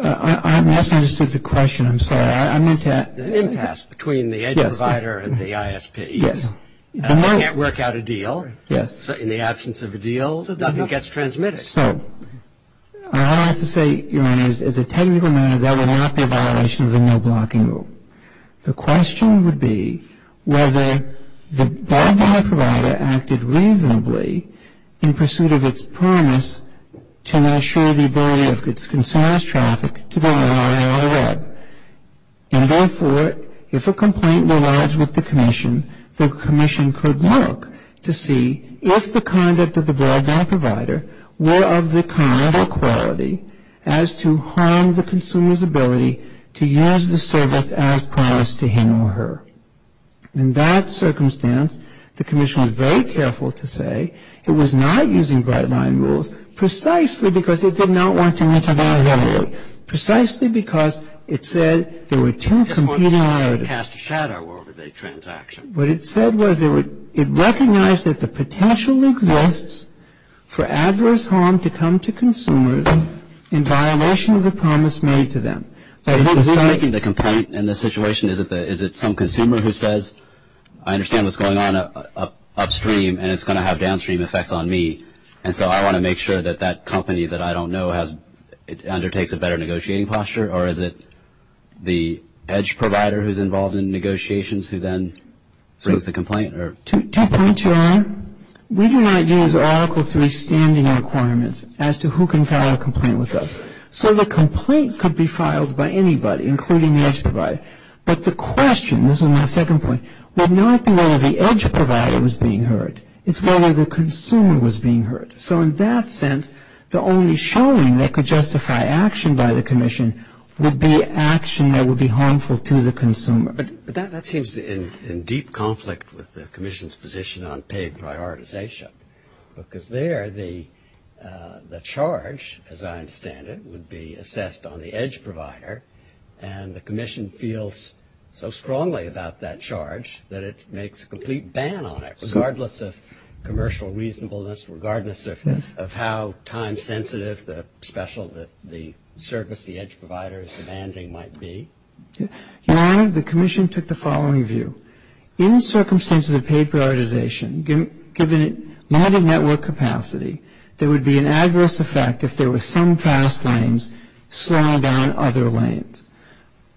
I'm asking a distinctive question. I'm sorry. The impasse between the edge provider and the ISP. Yes. You can't work out a deal. In the absence of a deal, nothing gets transmitted. Yes. So, I have to say, Your Honor, as a technical matter, that would not be a violation of the no blocking rule. The question would be whether the broadband provider acted reasonably in pursuit of its promise to assure the ability of its consumers' traffic to the IRR web. And therefore, if a complaint were lodged with the commission, the commission could look to see if the conduct of the broadband provider were of the kind or quality as to harm the consumer's ability to use the service as promised to him or her. In that circumstance, the commission was very careful to say it was not using bright line rules, precisely because it did not want to intervene. Precisely because it said there were two competing priorities. It cast a shadow over the transaction. What it said was it recognized that the potential exists for adverse harm to come to consumers in violation of the promise made to them. The complaint in this situation, is it some consumer who says, I understand what's going on upstream and it's going to have downstream effects on me, and so I want to make sure that that company that I don't know undertakes a better negotiating posture, or is it the EDGE provider who's involved in negotiations who then submits the complaint? Two points you're on. We do not use Oracle to extend the requirements as to who can file a complaint with us. So the complaint could be filed by anybody, including the EDGE provider. But the question, this is my second point, would not be whether the EDGE provider was being hurt. It's whether the consumer was being hurt. So in that sense, the only showing that could justify action by the commission would be action that would be harmful to the consumer. But that seems in deep conflict with the commission's position on paid prioritization, because there the charge, as I understand it, would be assessed on the EDGE provider, and the commission feels so strongly about that charge that it makes a complete ban on it, regardless of commercial reasonableness, regardless of how time-sensitive the special, the service the EDGE provider is demanding might be. Your Honor, the commission took the following view. In circumstances of paid prioritization, given it not in network capacity, there would be an adverse effect if there were some fast lanes slowed on other lanes.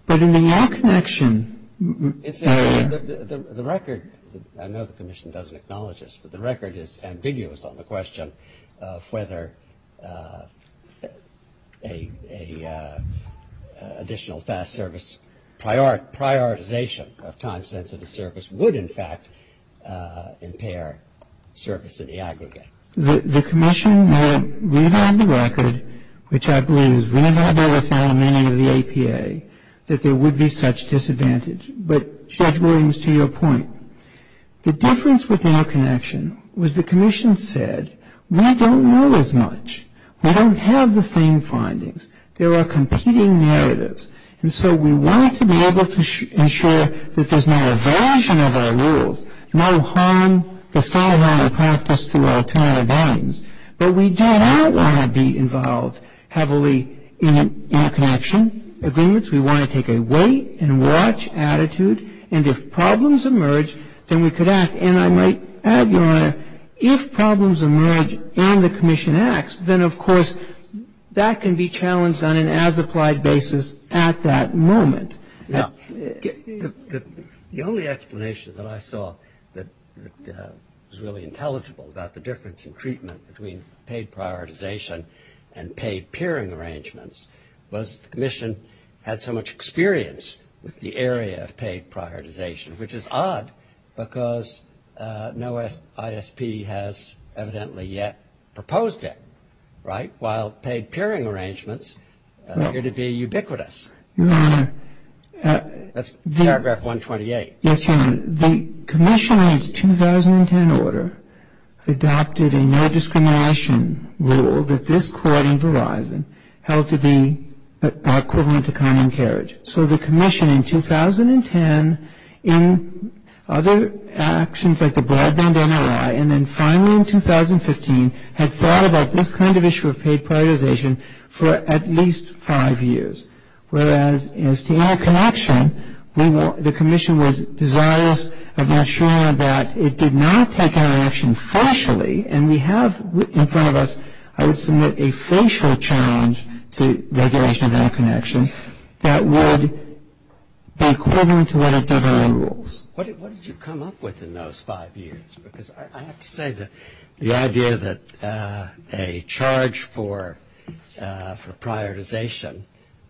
But in the network connection... The record, I know the commission doesn't acknowledge this, but the record is ambiguous on the question of whether an additional fast service prioritization of time-sensitive service would, in fact, impair service to the aggregate. The commission, we have the record, which I believe is very well verified in the name of the APA, that there would be such disadvantage. But Judge Williams, to your point, the difference with network connection was the commission said, we don't know as much. We don't have the same findings. There are competing narratives. And so we wanted to be able to ensure that there's not a version of our rules, no harm, the fallout of practice through our time and guidance. But we do not want to be involved heavily in a connection agreement. We want to take a wait-and-watch attitude. And if problems emerge, then we could act. And I might add, Your Honor, if problems emerge and the commission acts, then of course that can be challenged on an as-applied basis at that moment. Now, the only explanation that I saw that was really intelligible about the difference in treatment between paid prioritization and paid peering arrangements was the commission had so much experience with the area of paid prioritization, which is odd because no ISP has evidently yet proposed it, right? While paid peering arrangements appear to be ubiquitous. That's paragraph 128. Yes, Your Honor. The commission in its 2010 order adopted a no discrimination rule that this court in Verizon held to be equivalent to common carriage. So the commission in 2010, in other actions like the broadband NRI, and then finally in 2015 had thought about this kind of issue of paid prioritization for at least five years. Whereas, as to interconnection, the commission was desirous of ensuring that it did not take interaction partially and we have in front of us I would submit a facial challenge to regulation of interconnection that would be equivalent to what a WRA rules. What did you come up with in those five years? Because I have to say that the idea that a charge for prioritization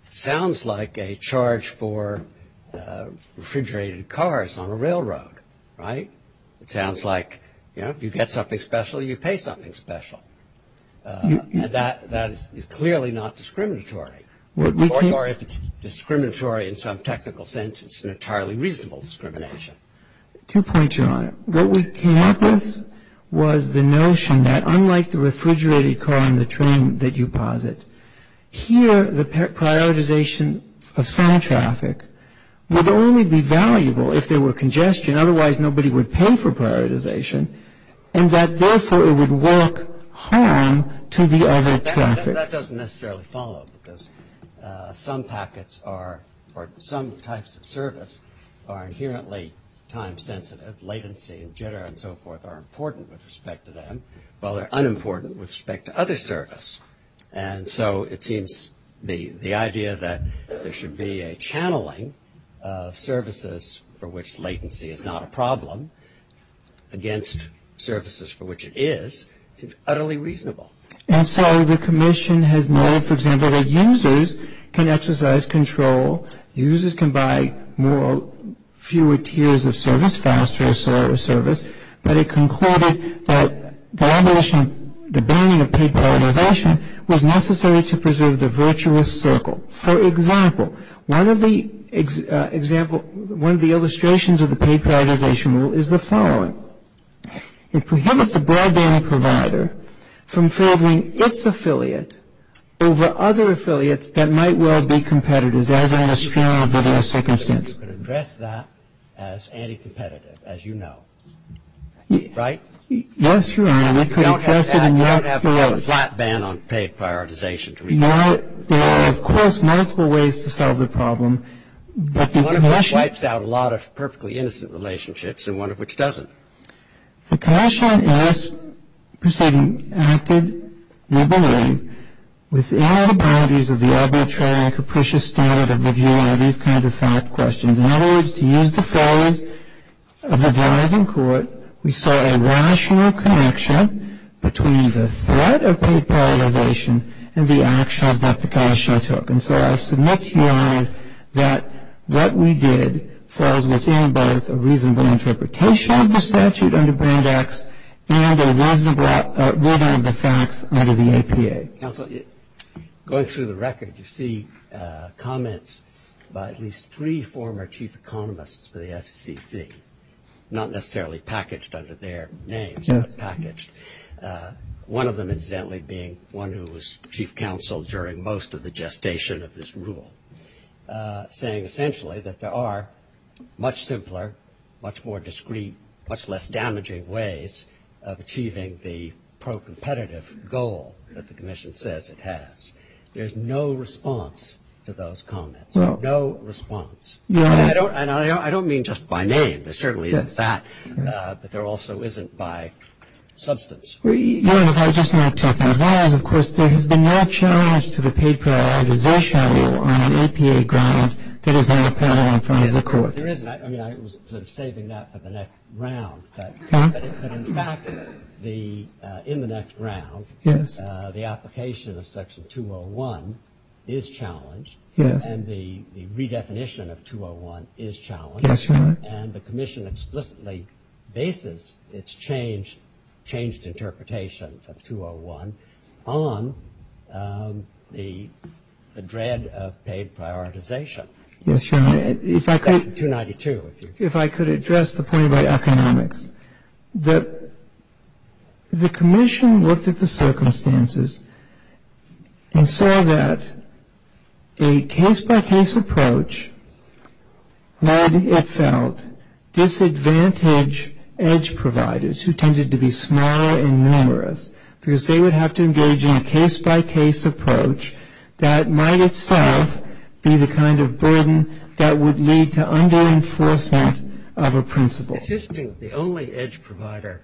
sounds like a charge for refrigerated cars on a railroad, right? It sounds like, you know, you get something special, you pay something special. That is clearly not discriminatory. Or if it's discriminatory in some technical sense, it's an entirely reasonable discrimination. Two points, Your Honor. What we came up with was the notion that unlike the refrigerated car and the train that you posit, here the prioritization of some traffic would only be valuable if there were congestion, otherwise nobody would pay for prioritization, and that therefore it would work harm to the other traffic. That doesn't necessarily follow because some packets or some types of service are inherently time-sensitive. Latency and jitter and so forth are important with respect to them, while they're unimportant with respect to other service. And so it seems the idea that there should be a channeling of services for which latency is not a problem against services for which it is is utterly reasonable. And so the commission has noted, for example, that users can exercise control, users can buy more or fewer tiers of service faster or slower service, but it concluded that the abolition of the banning of paid prioritization was necessary to preserve the virtuous circle. For example, one of the illustrations of the paid prioritization rule is the following. It prohibits a broadband provider from favoring its affiliate over other affiliates that might well be competitors, as in a superior business circumstance. You can address that as anti-competitive, as you know. Right? Yes, Your Honor. We can address it in that way. You don't have to have a flat ban on paid prioritization. No. There are, of course, multiple ways to solve the problem. One of them wipes out a lot of perfectly innocent relationships and one of which doesn't. The commission has acted, we believe, within the boundaries of the arbitrary and capricious standard of reviewing these kinds of fact questions. In other words, to use the phrase of the driving court, we saw a rational connection between the threat of paid prioritization and the actions that the commission took. And so I submit to you, Your Honor, that what we did falls within both a reasonable interpretation of the statute under Band X and a reasonable rendering of the facts under the APA. Counsel, going through the record, you see comments by at least three former chief economists for the FCC, not necessarily packaged under their names, but packaged, one of them incidentally being one who was chief counsel during most of the gestation of this rule, saying essentially that there are much simpler, much more discreet, much less damaging ways of achieving the pro-competitive goal that the commission says it has. There's no response to those comments. No. No response. And I don't mean just by name. There certainly is that, but there also isn't by substance. Your Honor, if I just may interject, as well as, of course, there has been no challenge to the paid prioritization on an APA ground that is not parallel in front of the court. There isn't. I mean, I was saving that for the next round. But in fact, in the next round, the application of Section 201 is challenged, and the redefinition of 201 is challenged. Yes, Your Honor. And the commission explicitly bases its changed interpretation of 201 on the dread of paid prioritization. Yes, Your Honor. Section 292. If I could address the point about economics. The commission looked at the circumstances and saw that a case-by-case approach led, it felt, disadvantaged edge providers who tended to be small and numerous, because they would have to engage in a case-by-case approach that might itself be the kind of burden that would lead to under-enforcement of a principle. It seems to me the only edge provider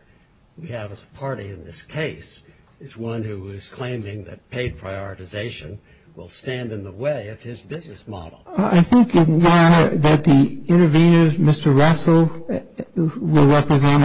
we have as a party in this case is one who is claiming that paid prioritization will stand in the way of his business model. I think, Your Honor, that the intervenors, Mr. Russell, will represent,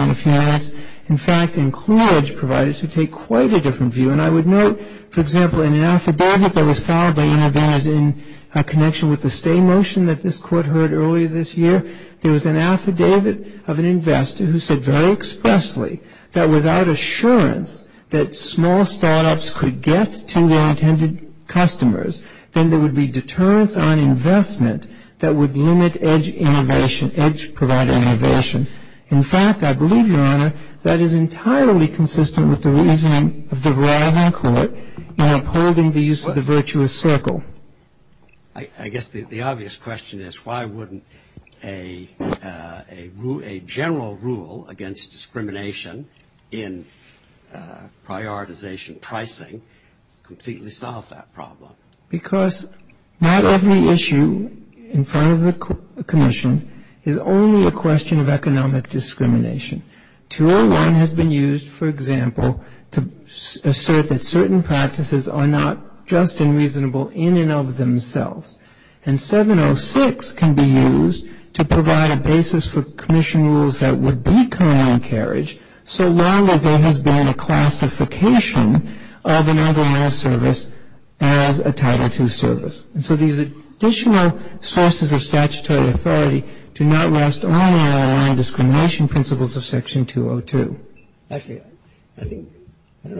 in fact, include edge providers who take quite a different view. And I would note, for example, in an affidavit that was filed by intervenors in connection with the stay motion that this court heard earlier this year, there was an affidavit of an investor who said very expressly that without assurance that small start-ups could get to their intended customers, then there would be deterrence on investment that would limit edge innovation, edge provider innovation. In fact, I believe, Your Honor, that is entirely consistent with the reasoning of the Verrilli Court in upholding the use of the virtuous circle. I guess the obvious question is why wouldn't a general rule against discrimination in prioritization pricing completely solve that problem? Because not every issue in front of the commission is only a question of economic discrimination. 201 has been used, for example, to assert that certain practices are not just and reasonable in and of themselves. And 706 can be used to provide a basis for commission rules that would be co-encouraged so long as there has been a classification of an ROL service as a Title II service. And so these additional sources of statutory authority do not rest only on the non-discrimination principles of Section 202. Actually, I don't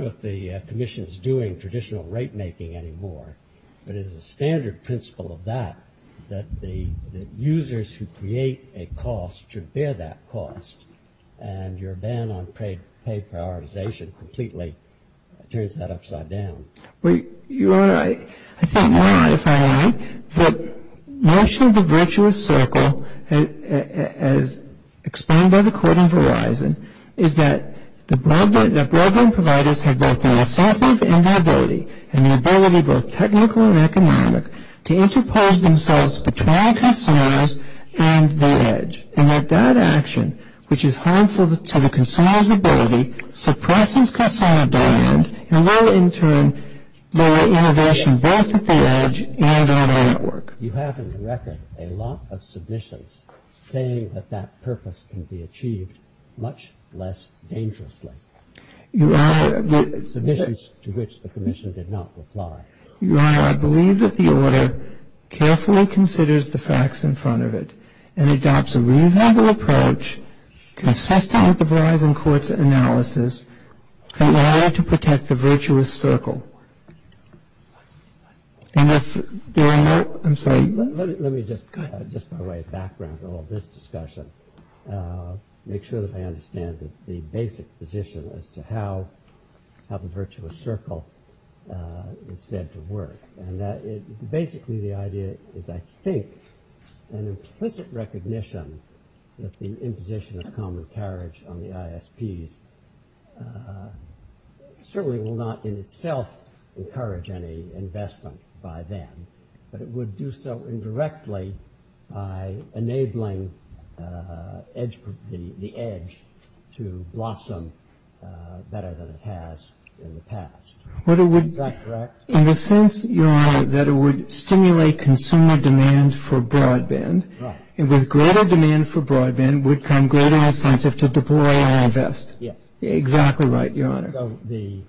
know if the commission is doing traditional rate-making anymore, but it is a standard principle of that that the users who create a cost should bear that cost, and your ban on pay prioritization completely turns that upside down. Well, you're right. I think now, if I may, the notion of the virtuous circle, as explained by the court in Verizon, is that the broadband providers have both an incentive and an ability, and the ability, both technical and economic, to interpose themselves between customers and the edge, and that that action, which is harmful to the consumer's ability, suppresses customer demand, and while, in turn, lower innovation both at the edge and on our network. You have in the record a lot of submissions saying that that purpose can be achieved much less dangerously, submissions to which the commission did not reply. Your Honor, I believe that the order carefully considers the facts in front of it and adopts a reasonable approach consistent with the Verizon court's analysis in order to protect the virtuous circle. Let me just, by way of background for all this discussion, make sure that I understand the basic position as to how the virtuous circle is said to work. Basically, the idea is, I think, an explicit recognition if the imposition of common carriage on the ISPs certainly will not in itself encourage any investment by them, but it would do so indirectly by enabling the edge to blossom better than it has in the past. In the sense, Your Honor, that it would stimulate consumer demand for broadband, and with greater demand for broadband would come greater incentive to deploy all of this. Yes. Exactly right, Your Honor. So the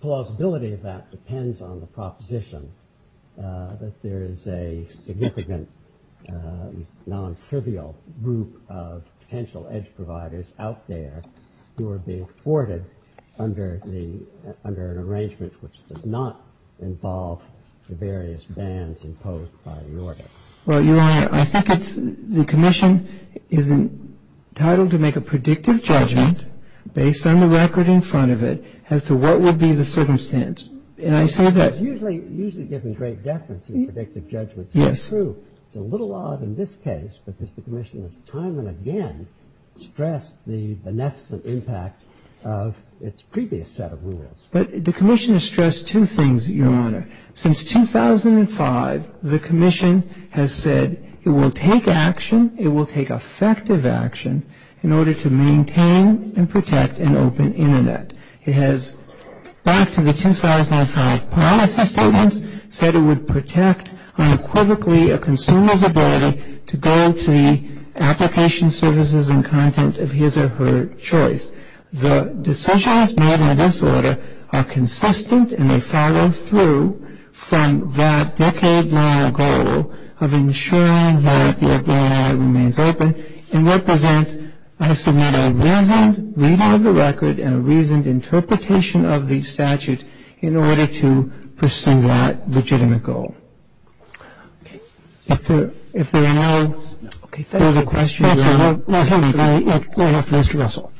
plausibility of that depends on the proposition that there is a significant, non-trivial group of potential edge providers out there who are being afforded under an arrangement which does not involve the various bans imposed by the order. Well, Your Honor, I think the Commission is entitled to make a predictive judgment based on the record in front of it as to what would be the circumstance. And I say that... It's usually given great definition, predictive judgment. Yes. It's true. It's a little odd in this case because the Commission has time and again stressed the beneficial impact of its previous set of rules. But the Commission has stressed two things, Your Honor. Since 2005, the Commission has said it will take action, it will take effective action, in order to maintain and protect an open Internet. It has, back to the 2005 prior set of statements, said it would protect unequivocally a consumer's ability to go to the application services and content of his or her choice. In other words, the decisions made by this order are consistent and they follow through from that decade-long goal of ensuring that the Internet remains open and represents, I submit, a reasoned reading of the record and a reasoned interpretation of the statute in order to pursue that legitimate goal. If there are no further questions... Go ahead, Mr. Russell.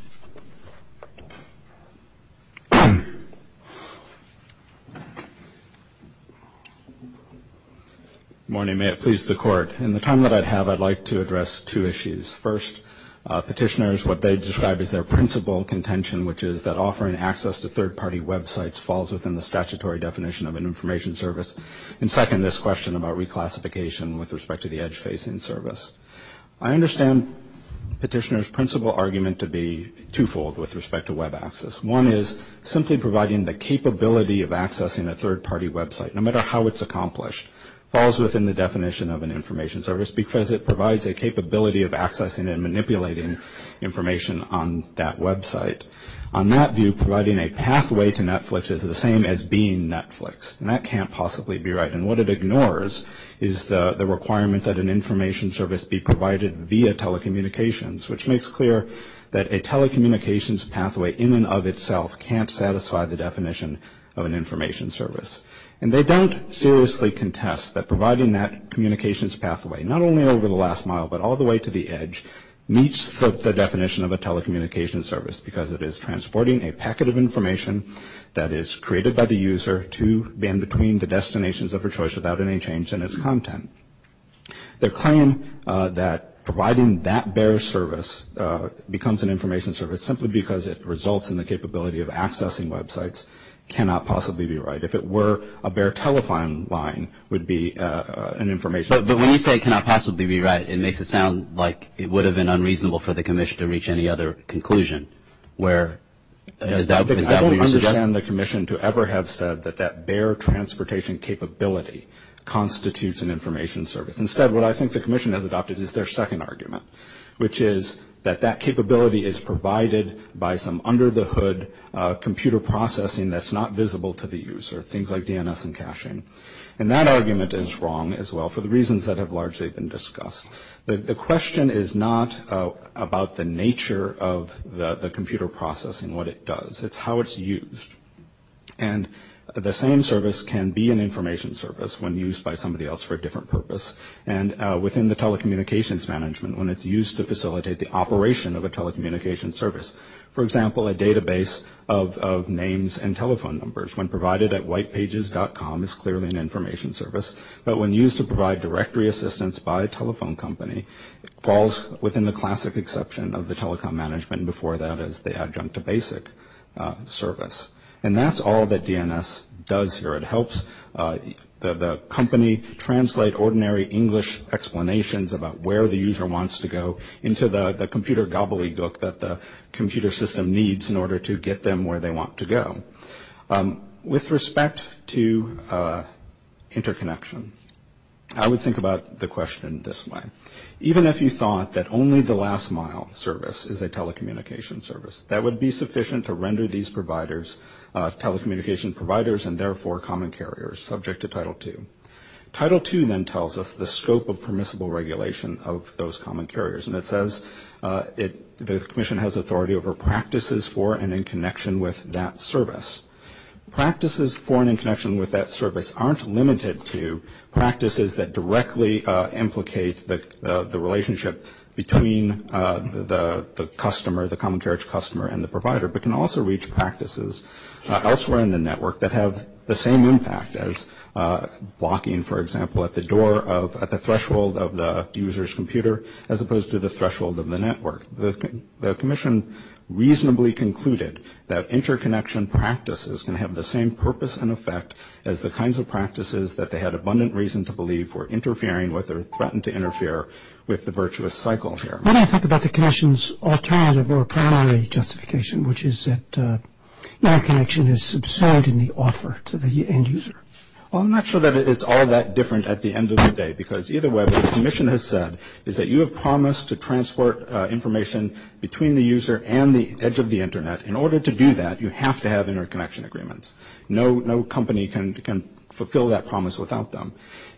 Good morning. May it please the Court. In the time that I have, I'd like to address two issues. First, petitioners, what they described as their principal contention, which is that offering access to third-party websites falls within the statutory definition of an information service. And second, this question about reclassification with respect to the edge-facing service. I understand petitioners' principal argument to be twofold with respect to web access. One is simply providing the capability of accessing a third-party website, no matter how it's accomplished, falls within the definition of an information service because it provides a capability of accessing and manipulating information on that website. On that view, providing a pathway to Netflix is the same as being Netflix, and that can't possibly be right. And what it ignores is the requirement that an information service be provided via telecommunications, which makes clear that a telecommunications pathway in and of itself can't satisfy the definition of an information service. And they don't seriously contest that providing that communications pathway, not only over the last mile but all the way to the edge, meets the definition of a telecommunications service because it is transporting a packet of information that is created by the user to and between the destinations of their choice without any change in its content. Their claim that providing that bare service becomes an information service simply because it results in the capability of accessing websites cannot possibly be right. If it were a bare telephone line, it would be an information service. But when you say it cannot possibly be right, it makes it sound like it would have been unreasonable for the commission to reach any other conclusion. I don't understand the commission to ever have said that that bare transportation capability constitutes an information service. Instead, what I think the commission has adopted is their second argument, which is that that capability is provided by some under-the-hood computer processing that's not visible to the user, things like DNS and caching. And that argument is wrong as well for the reasons that have largely been discussed. The question is not about the nature of the computer processing, what it does. It's how it's used. And the same service can be an information service when used by somebody else for a different purpose. And within the telecommunications management, when it's used to facilitate the operation of a telecommunications service, for example, a database of names and telephone numbers, when provided at whitepages.com, it's clearly an information service. But when used to provide directory assistance by a telephone company, falls within the classic exception of the telecom management, before that is the adjunct to basic service. And that's all that DNS does here. It helps the company translate ordinary English explanations about where the user wants to go into the computer gobbledygook that the computer system needs in order to get them where they want to go. With respect to interconnection, I would think about the question this way. Even if you thought that only the last mile service is a telecommunications service, that would be sufficient to render these providers telecommunications providers and therefore common carriers subject to Title II. Title II then tells us the scope of permissible regulation of those common carriers. And it says the Commission has authority over practices for and in connection with that service. Practices for and in connection with that service aren't limited to practices that directly implicate the relationship between the customer, the common carriage customer, and the provider, but can also reach practices elsewhere in the network that have the same impact as blocking, for example, at the threshold of the user's computer as opposed to the threshold of the network. The Commission reasonably concluded that interconnection practices can have the same purpose and effect as the kinds of practices that they had abundant reason to believe were interfering with or threatened to interfere with the virtuous cycle here. Why don't I talk about the Commission's alternative or primary justification, which is that interconnection is subservient in the offer to the end user? Well, I'm not sure that it's all that different at the end of the day because either way, what the Commission has said is that you have promised to transport information between the user and the edge of the Internet. In order to do that, you have to have interconnection agreements. No company can fulfill that promise without them.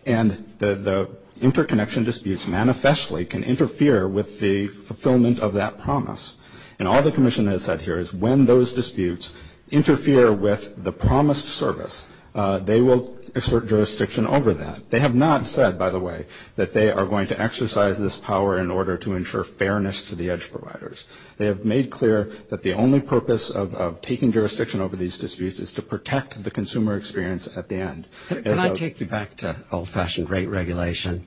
And the interconnection disputes manifestly can interfere with the fulfillment of that promise. And all the Commission has said here is when those disputes interfere with the promised service, they will assert jurisdiction over that. They have not said, by the way, that they are going to exercise this power in order to ensure fairness to the edge providers. They have made clear that the only purpose of taking jurisdiction over these disputes is to protect the consumer experience at the end. Can I take you back to old-fashioned rate regulation?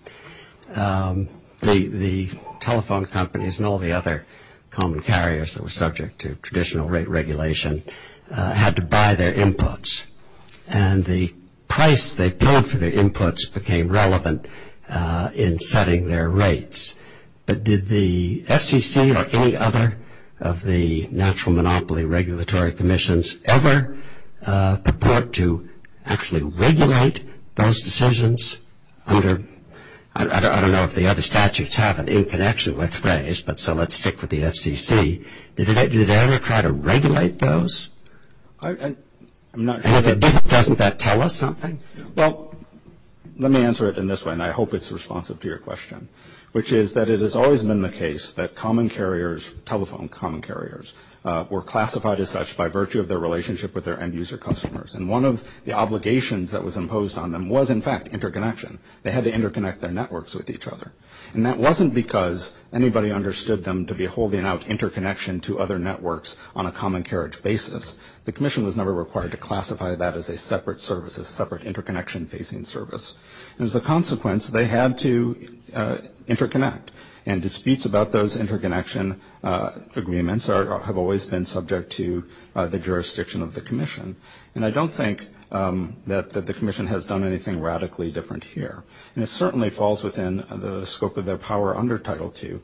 The telephone companies and all the other common carriers that were subject to traditional rate regulation had to buy their inputs. And the price they paid for their inputs became relevant in setting their rates. But did the FCC or any other of the natural monopoly regulatory commissions ever purport to actually regulate those decisions? I don't know if the other statutes have an interconnection with race, but so let's stick with the FCC. Did they ever try to regulate those? Doesn't that tell us something? Well, let me answer it in this way, and I hope it's responsive to your question, which is that it has always been the case that common carriers, telephone common carriers, were classified as such by virtue of their relationship with their end-user customers. And one of the obligations that was imposed on them was, in fact, interconnection. They had to interconnect their networks with each other. And that wasn't because anybody understood them to be holding out interconnection to other networks on a common carriage basis. The commission was never required to classify that as a separate service, a separate interconnection-facing service. And as a consequence, they had to interconnect. And disputes about those interconnection agreements have always been subject to the jurisdiction of the commission. And I don't think that the commission has done anything radically different here. And it certainly falls within the scope of their power under Title II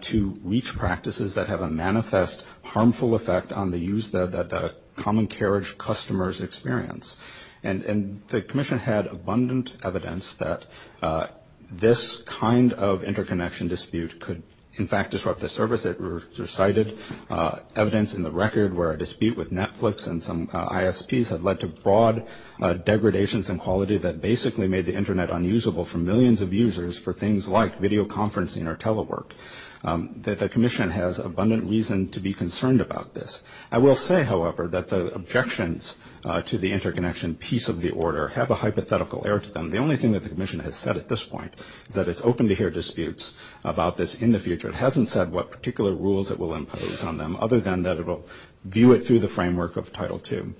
to reach practices that have a manifest harmful effect on the use that common carriage customers experience. And the commission had abundant evidence that this kind of interconnection dispute could, in fact, disrupt the service. It recited evidence in the record where a dispute with Netflix and some ISPs had led to broad degradations in quality that basically made the Internet unusable for millions of users for things like video conferencing or telework, that the commission has abundant reason to be concerned about this. I will say, however, that the objections to the interconnection piece of the order have a hypothetical air to them. The only thing that the commission has said at this point is that it's open to hear disputes about this in the future. It hasn't said what particular rules it will impose on them, other than that it will view it through the framework of Title II.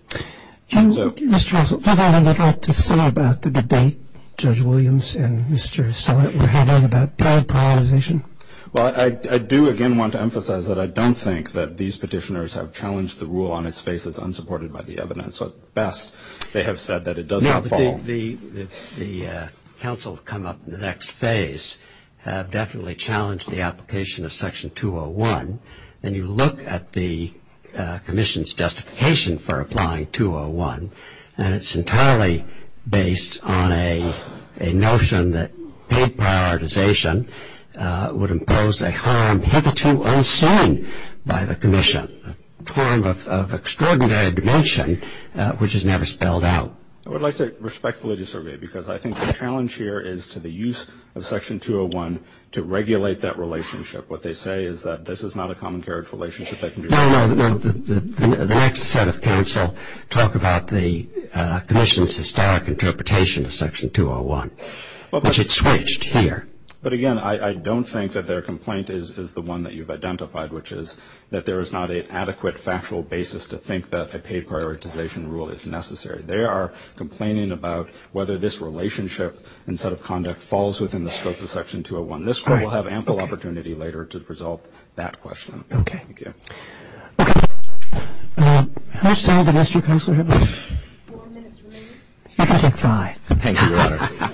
And, Mr. Counsel, does anyone have anything to say about the debate, Judge Williams and Mr. Stilett, were having about telepolarization? Well, I do, again, want to emphasize that I don't think that these petitioners have challenged the rule on its face as unsupported by the evidence. At best, they have said that it does not fall. Now, the counsel to come up in the next phase definitely challenged the application of Section 201. And you look at the commission's justification for applying 201, and it's entirely based on a notion that paid prioritization would impose a harm hitherto unseen by the commission, a harm of extraordinary dimension which is never spelled out. I would like to respectfully disagree, because I think the challenge here is to the use of Section 201 to regulate that relationship. What they say is that this is not a common carriage relationship. No, no, no. The next set of counsel talk about the commission's historic interpretation of Section 201, which it switched here. But, again, I don't think that their complaint is the one that you've identified, which is that there is not an adequate factual basis to think that a paid prioritization rule is necessary. They are complaining about whether this relationship instead of conduct falls within the scope of Section 201. This court will have ample opportunity later to resolve that question. Okay. Thank you. Okay. First, I'm going to ask you, Counselor Hibble, if you could try. Thank you, Your Honor.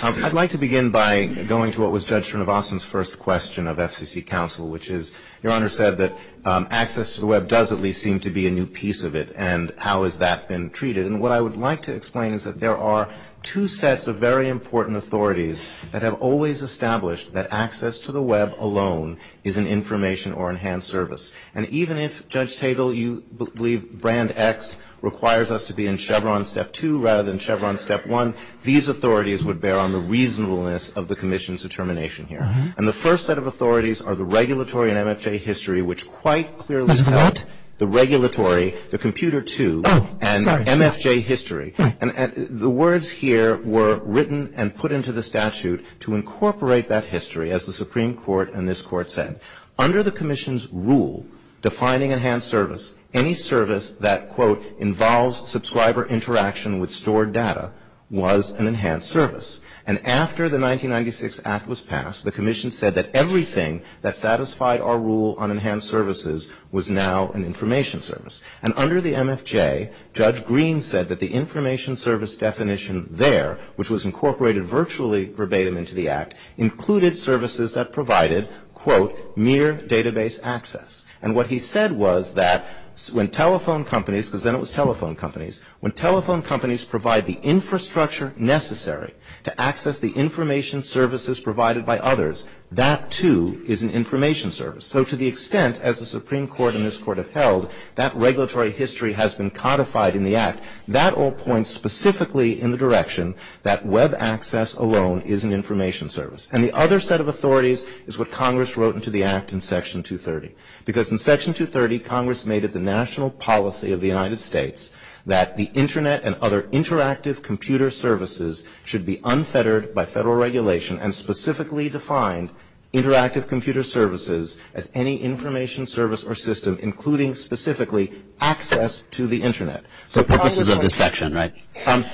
I'd like to begin by going to what was Judge Srinivasan's first question of FCC counsel, which is, Your Honor said that access to the Web does at least seem to be a new piece of it, and how has that been treated? And what I would like to explain is that there are two sets of very important authorities that have always established that access to the Web alone is an information or enhanced service. And even if, Judge Tabel, you believe Brand X requires us to be in Chevron Step 2 rather than Chevron Step 1, these authorities would bear on the reasonableness of the commission's determination here. And the first set of authorities are the regulatory and MFA history, which quite clearly tell the regulatory, the Computer 2, and MFJ history. And the words here were written and put into the statute to incorporate that history, as the Supreme Court and this Court said. Under the commission's rule defining enhanced service, any service that, quote, involves subscriber interaction with stored data was an enhanced service. And after the 1996 Act was passed, the commission said that everything that satisfied our rule on enhanced services was now an information service. And under the MFJ, Judge Green said that the information service definition there, which was incorporated virtually verbatim into the Act, included services that provided, quote, mere database access. And what he said was that when telephone companies, because then it was telephone companies, when telephone companies provide the infrastructure necessary to access the information services provided by others, that, too, is an information service. So to the extent, as the Supreme Court and this Court have held, that regulatory history has been codified in the Act, that all points specifically in the direction that web access alone is an information service. And the other set of authorities is what Congress wrote into the Act in Section 230. Because in Section 230, Congress made it the national policy of the United States that the Internet and other interactive computer services should be unfettered by federal regulation and specifically defined interactive computer services as any information service or system including specifically access to the Internet. So purposes of this section, right?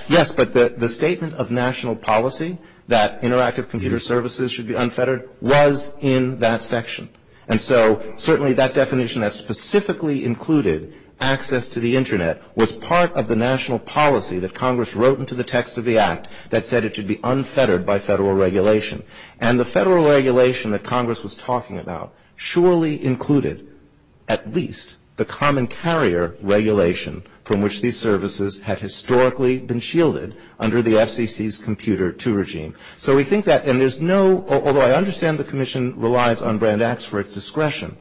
Yes, but the statement of national policy that interactive computer services should be unfettered was in that section. And so certainly that definition that specifically included access to the Internet was part of the national policy that Congress wrote into the text of the Act that said it should be unfettered by federal regulation. And the federal regulation that Congress was talking about surely included at least the common carrier regulation from which these services had historically been shielded under the FCC's Computer II regime. So we think that, and there's no, although I understand the Commission relies on Brand X for its discretion,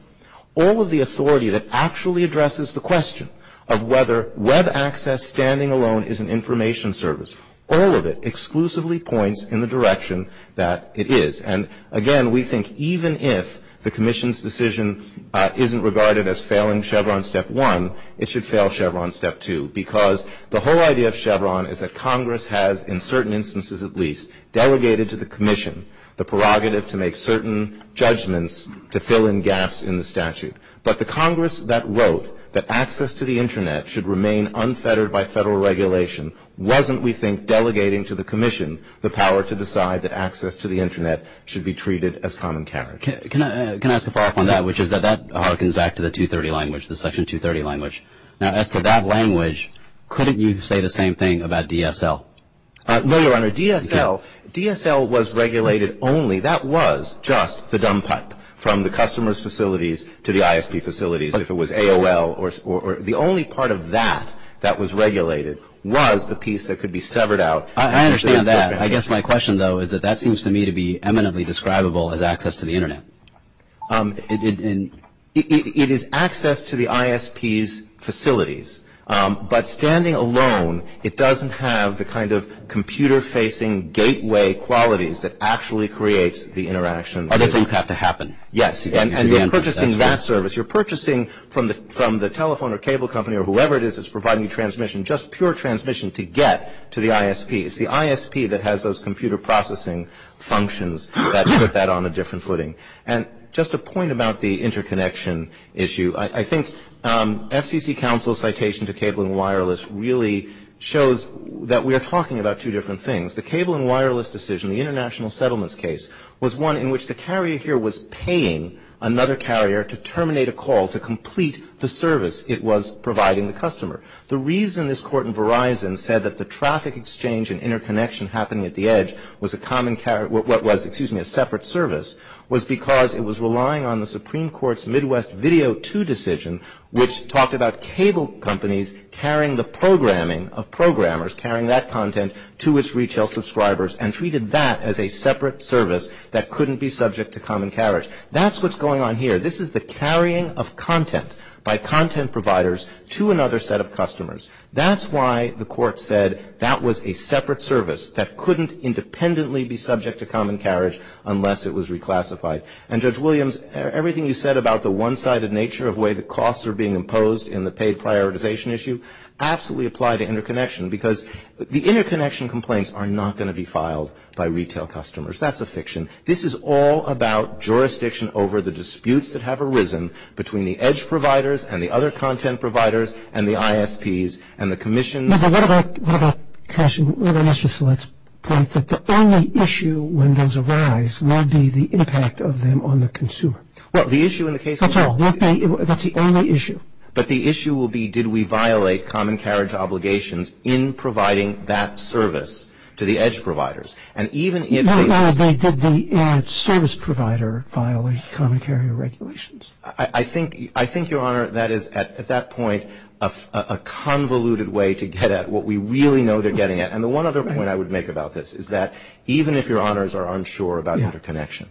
all of the authority that actually addresses the question of whether Web access standing alone is an information service, all of it exclusively points in the direction that it is. And again, we think even if the Commission's decision isn't regarded as failing Chevron Step 1, it should fail Chevron Step 2 because the whole idea of Chevron is that Congress has, in certain instances at least, delegated to the Commission the prerogative to make certain judgments to fill in gaps in the statute. But the Congress that wrote that access to the Internet should remain unfettered by federal regulation wasn't, we think, delegating to the Commission the power to decide that access to the Internet should be treated as common carrier. Can I ask a follow-up on that, which is that that harkens back to the 230 language, the Section 230 language. Now, as to that language, couldn't you say the same thing about DSL? No, Your Honor. DSL was regulated only, that was just the dump hut from the customer's facilities to the ISP facilities, if it was AOL. The only part of that that was regulated was the piece that could be severed out. I understand that. I guess my question, though, is that that seems to me to be eminently describable as access to the Internet. It is access to the ISP's facilities. But standing alone, it doesn't have the kind of computer-facing gateway qualities that actually creates the interaction. Other things have to happen. Yes, and you're purchasing that service. You're purchasing from the telephone or cable company or whoever it is that's providing transmission, just pure transmission to get to the ISP. It's the ISP that has those computer processing functions that put that on a different footing. And just a point about the interconnection issue. I think FCC counsel's citation to cable and wireless really shows that we are talking about two different things. The cable and wireless decision, the international settlements case, was one in which the carrier here was paying another carrier to terminate a call to complete the service it was providing the customer. The reason this court in Verizon said that the traffic exchange and interconnection happening at the edge was a separate service was because it was relying on the Supreme Court's Midwest Video 2 decision, which talked about cable companies carrying the programming of programmers, carrying that content to its retail subscribers, and treated that as a separate service that couldn't be subject to common carriage. That's what's going on here. This is the carrying of content by content providers to another set of customers. That's why the court said that was a separate service that couldn't independently be subject to common carriage unless it was reclassified. And, Judge Williams, everything you said about the one-sided nature of the way the costs are being imposed in the paid prioritization issue absolutely applied to interconnection because the interconnection complaints are not going to be filed by retail customers. That's a fiction. This is all about jurisdiction over the disputes that have arisen between the edge providers and the other content providers and the ISPs and the commission. What about the only issue when those arise will be the impact of them on the consumer? That's all. That's the only issue. But the issue will be did we violate common carriage obligations in providing that service to the edge providers. Your Honor, did the edge service provider violate common carriage regulations? I think, Your Honor, that is at that point a convoluted way to get at what we really know they're getting at. And the one other point I would make about this is that even if Your Honors are unsure about interconnection,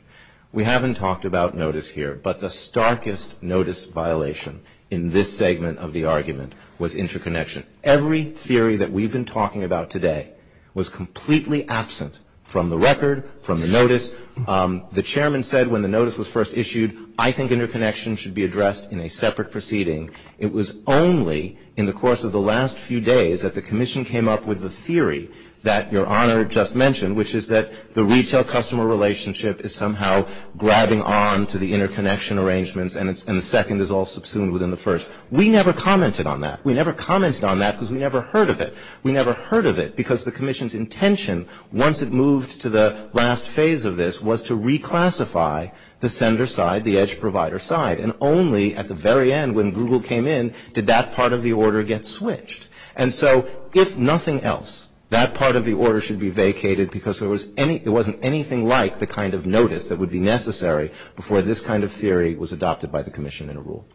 we haven't talked about notice here, but the starkest notice violation in this segment of the argument was interconnection. Every theory that we've been talking about today was completely absent from the record, from the notice. The chairman said when the notice was first issued, I think interconnection should be addressed in a separate proceeding. It was only in the course of the last few days that the commission came up with the theory that Your Honor just mentioned, which is that the retail customer relationship is somehow grabbing on to the interconnection arrangements and the second is all subsumed within the first. We never commented on that. We never commented on that because we never heard of it. We never heard of it because the commission's intention, once it moved to the last phase of this, was to reclassify the sender side, the edge provider side, and only at the very end when Google came in did that part of the order get switched. And so if nothing else, that part of the order should be vacated because there wasn't anything like the kind of notice that would be necessary before this kind of theory was adopted by the commission in a rule.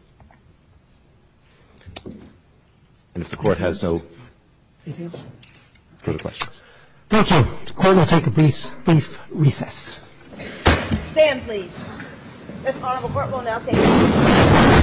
And if the court has no further questions. Thank you. The court will take a brief recess. Stand, please. Thank you. Thank you. Thank you.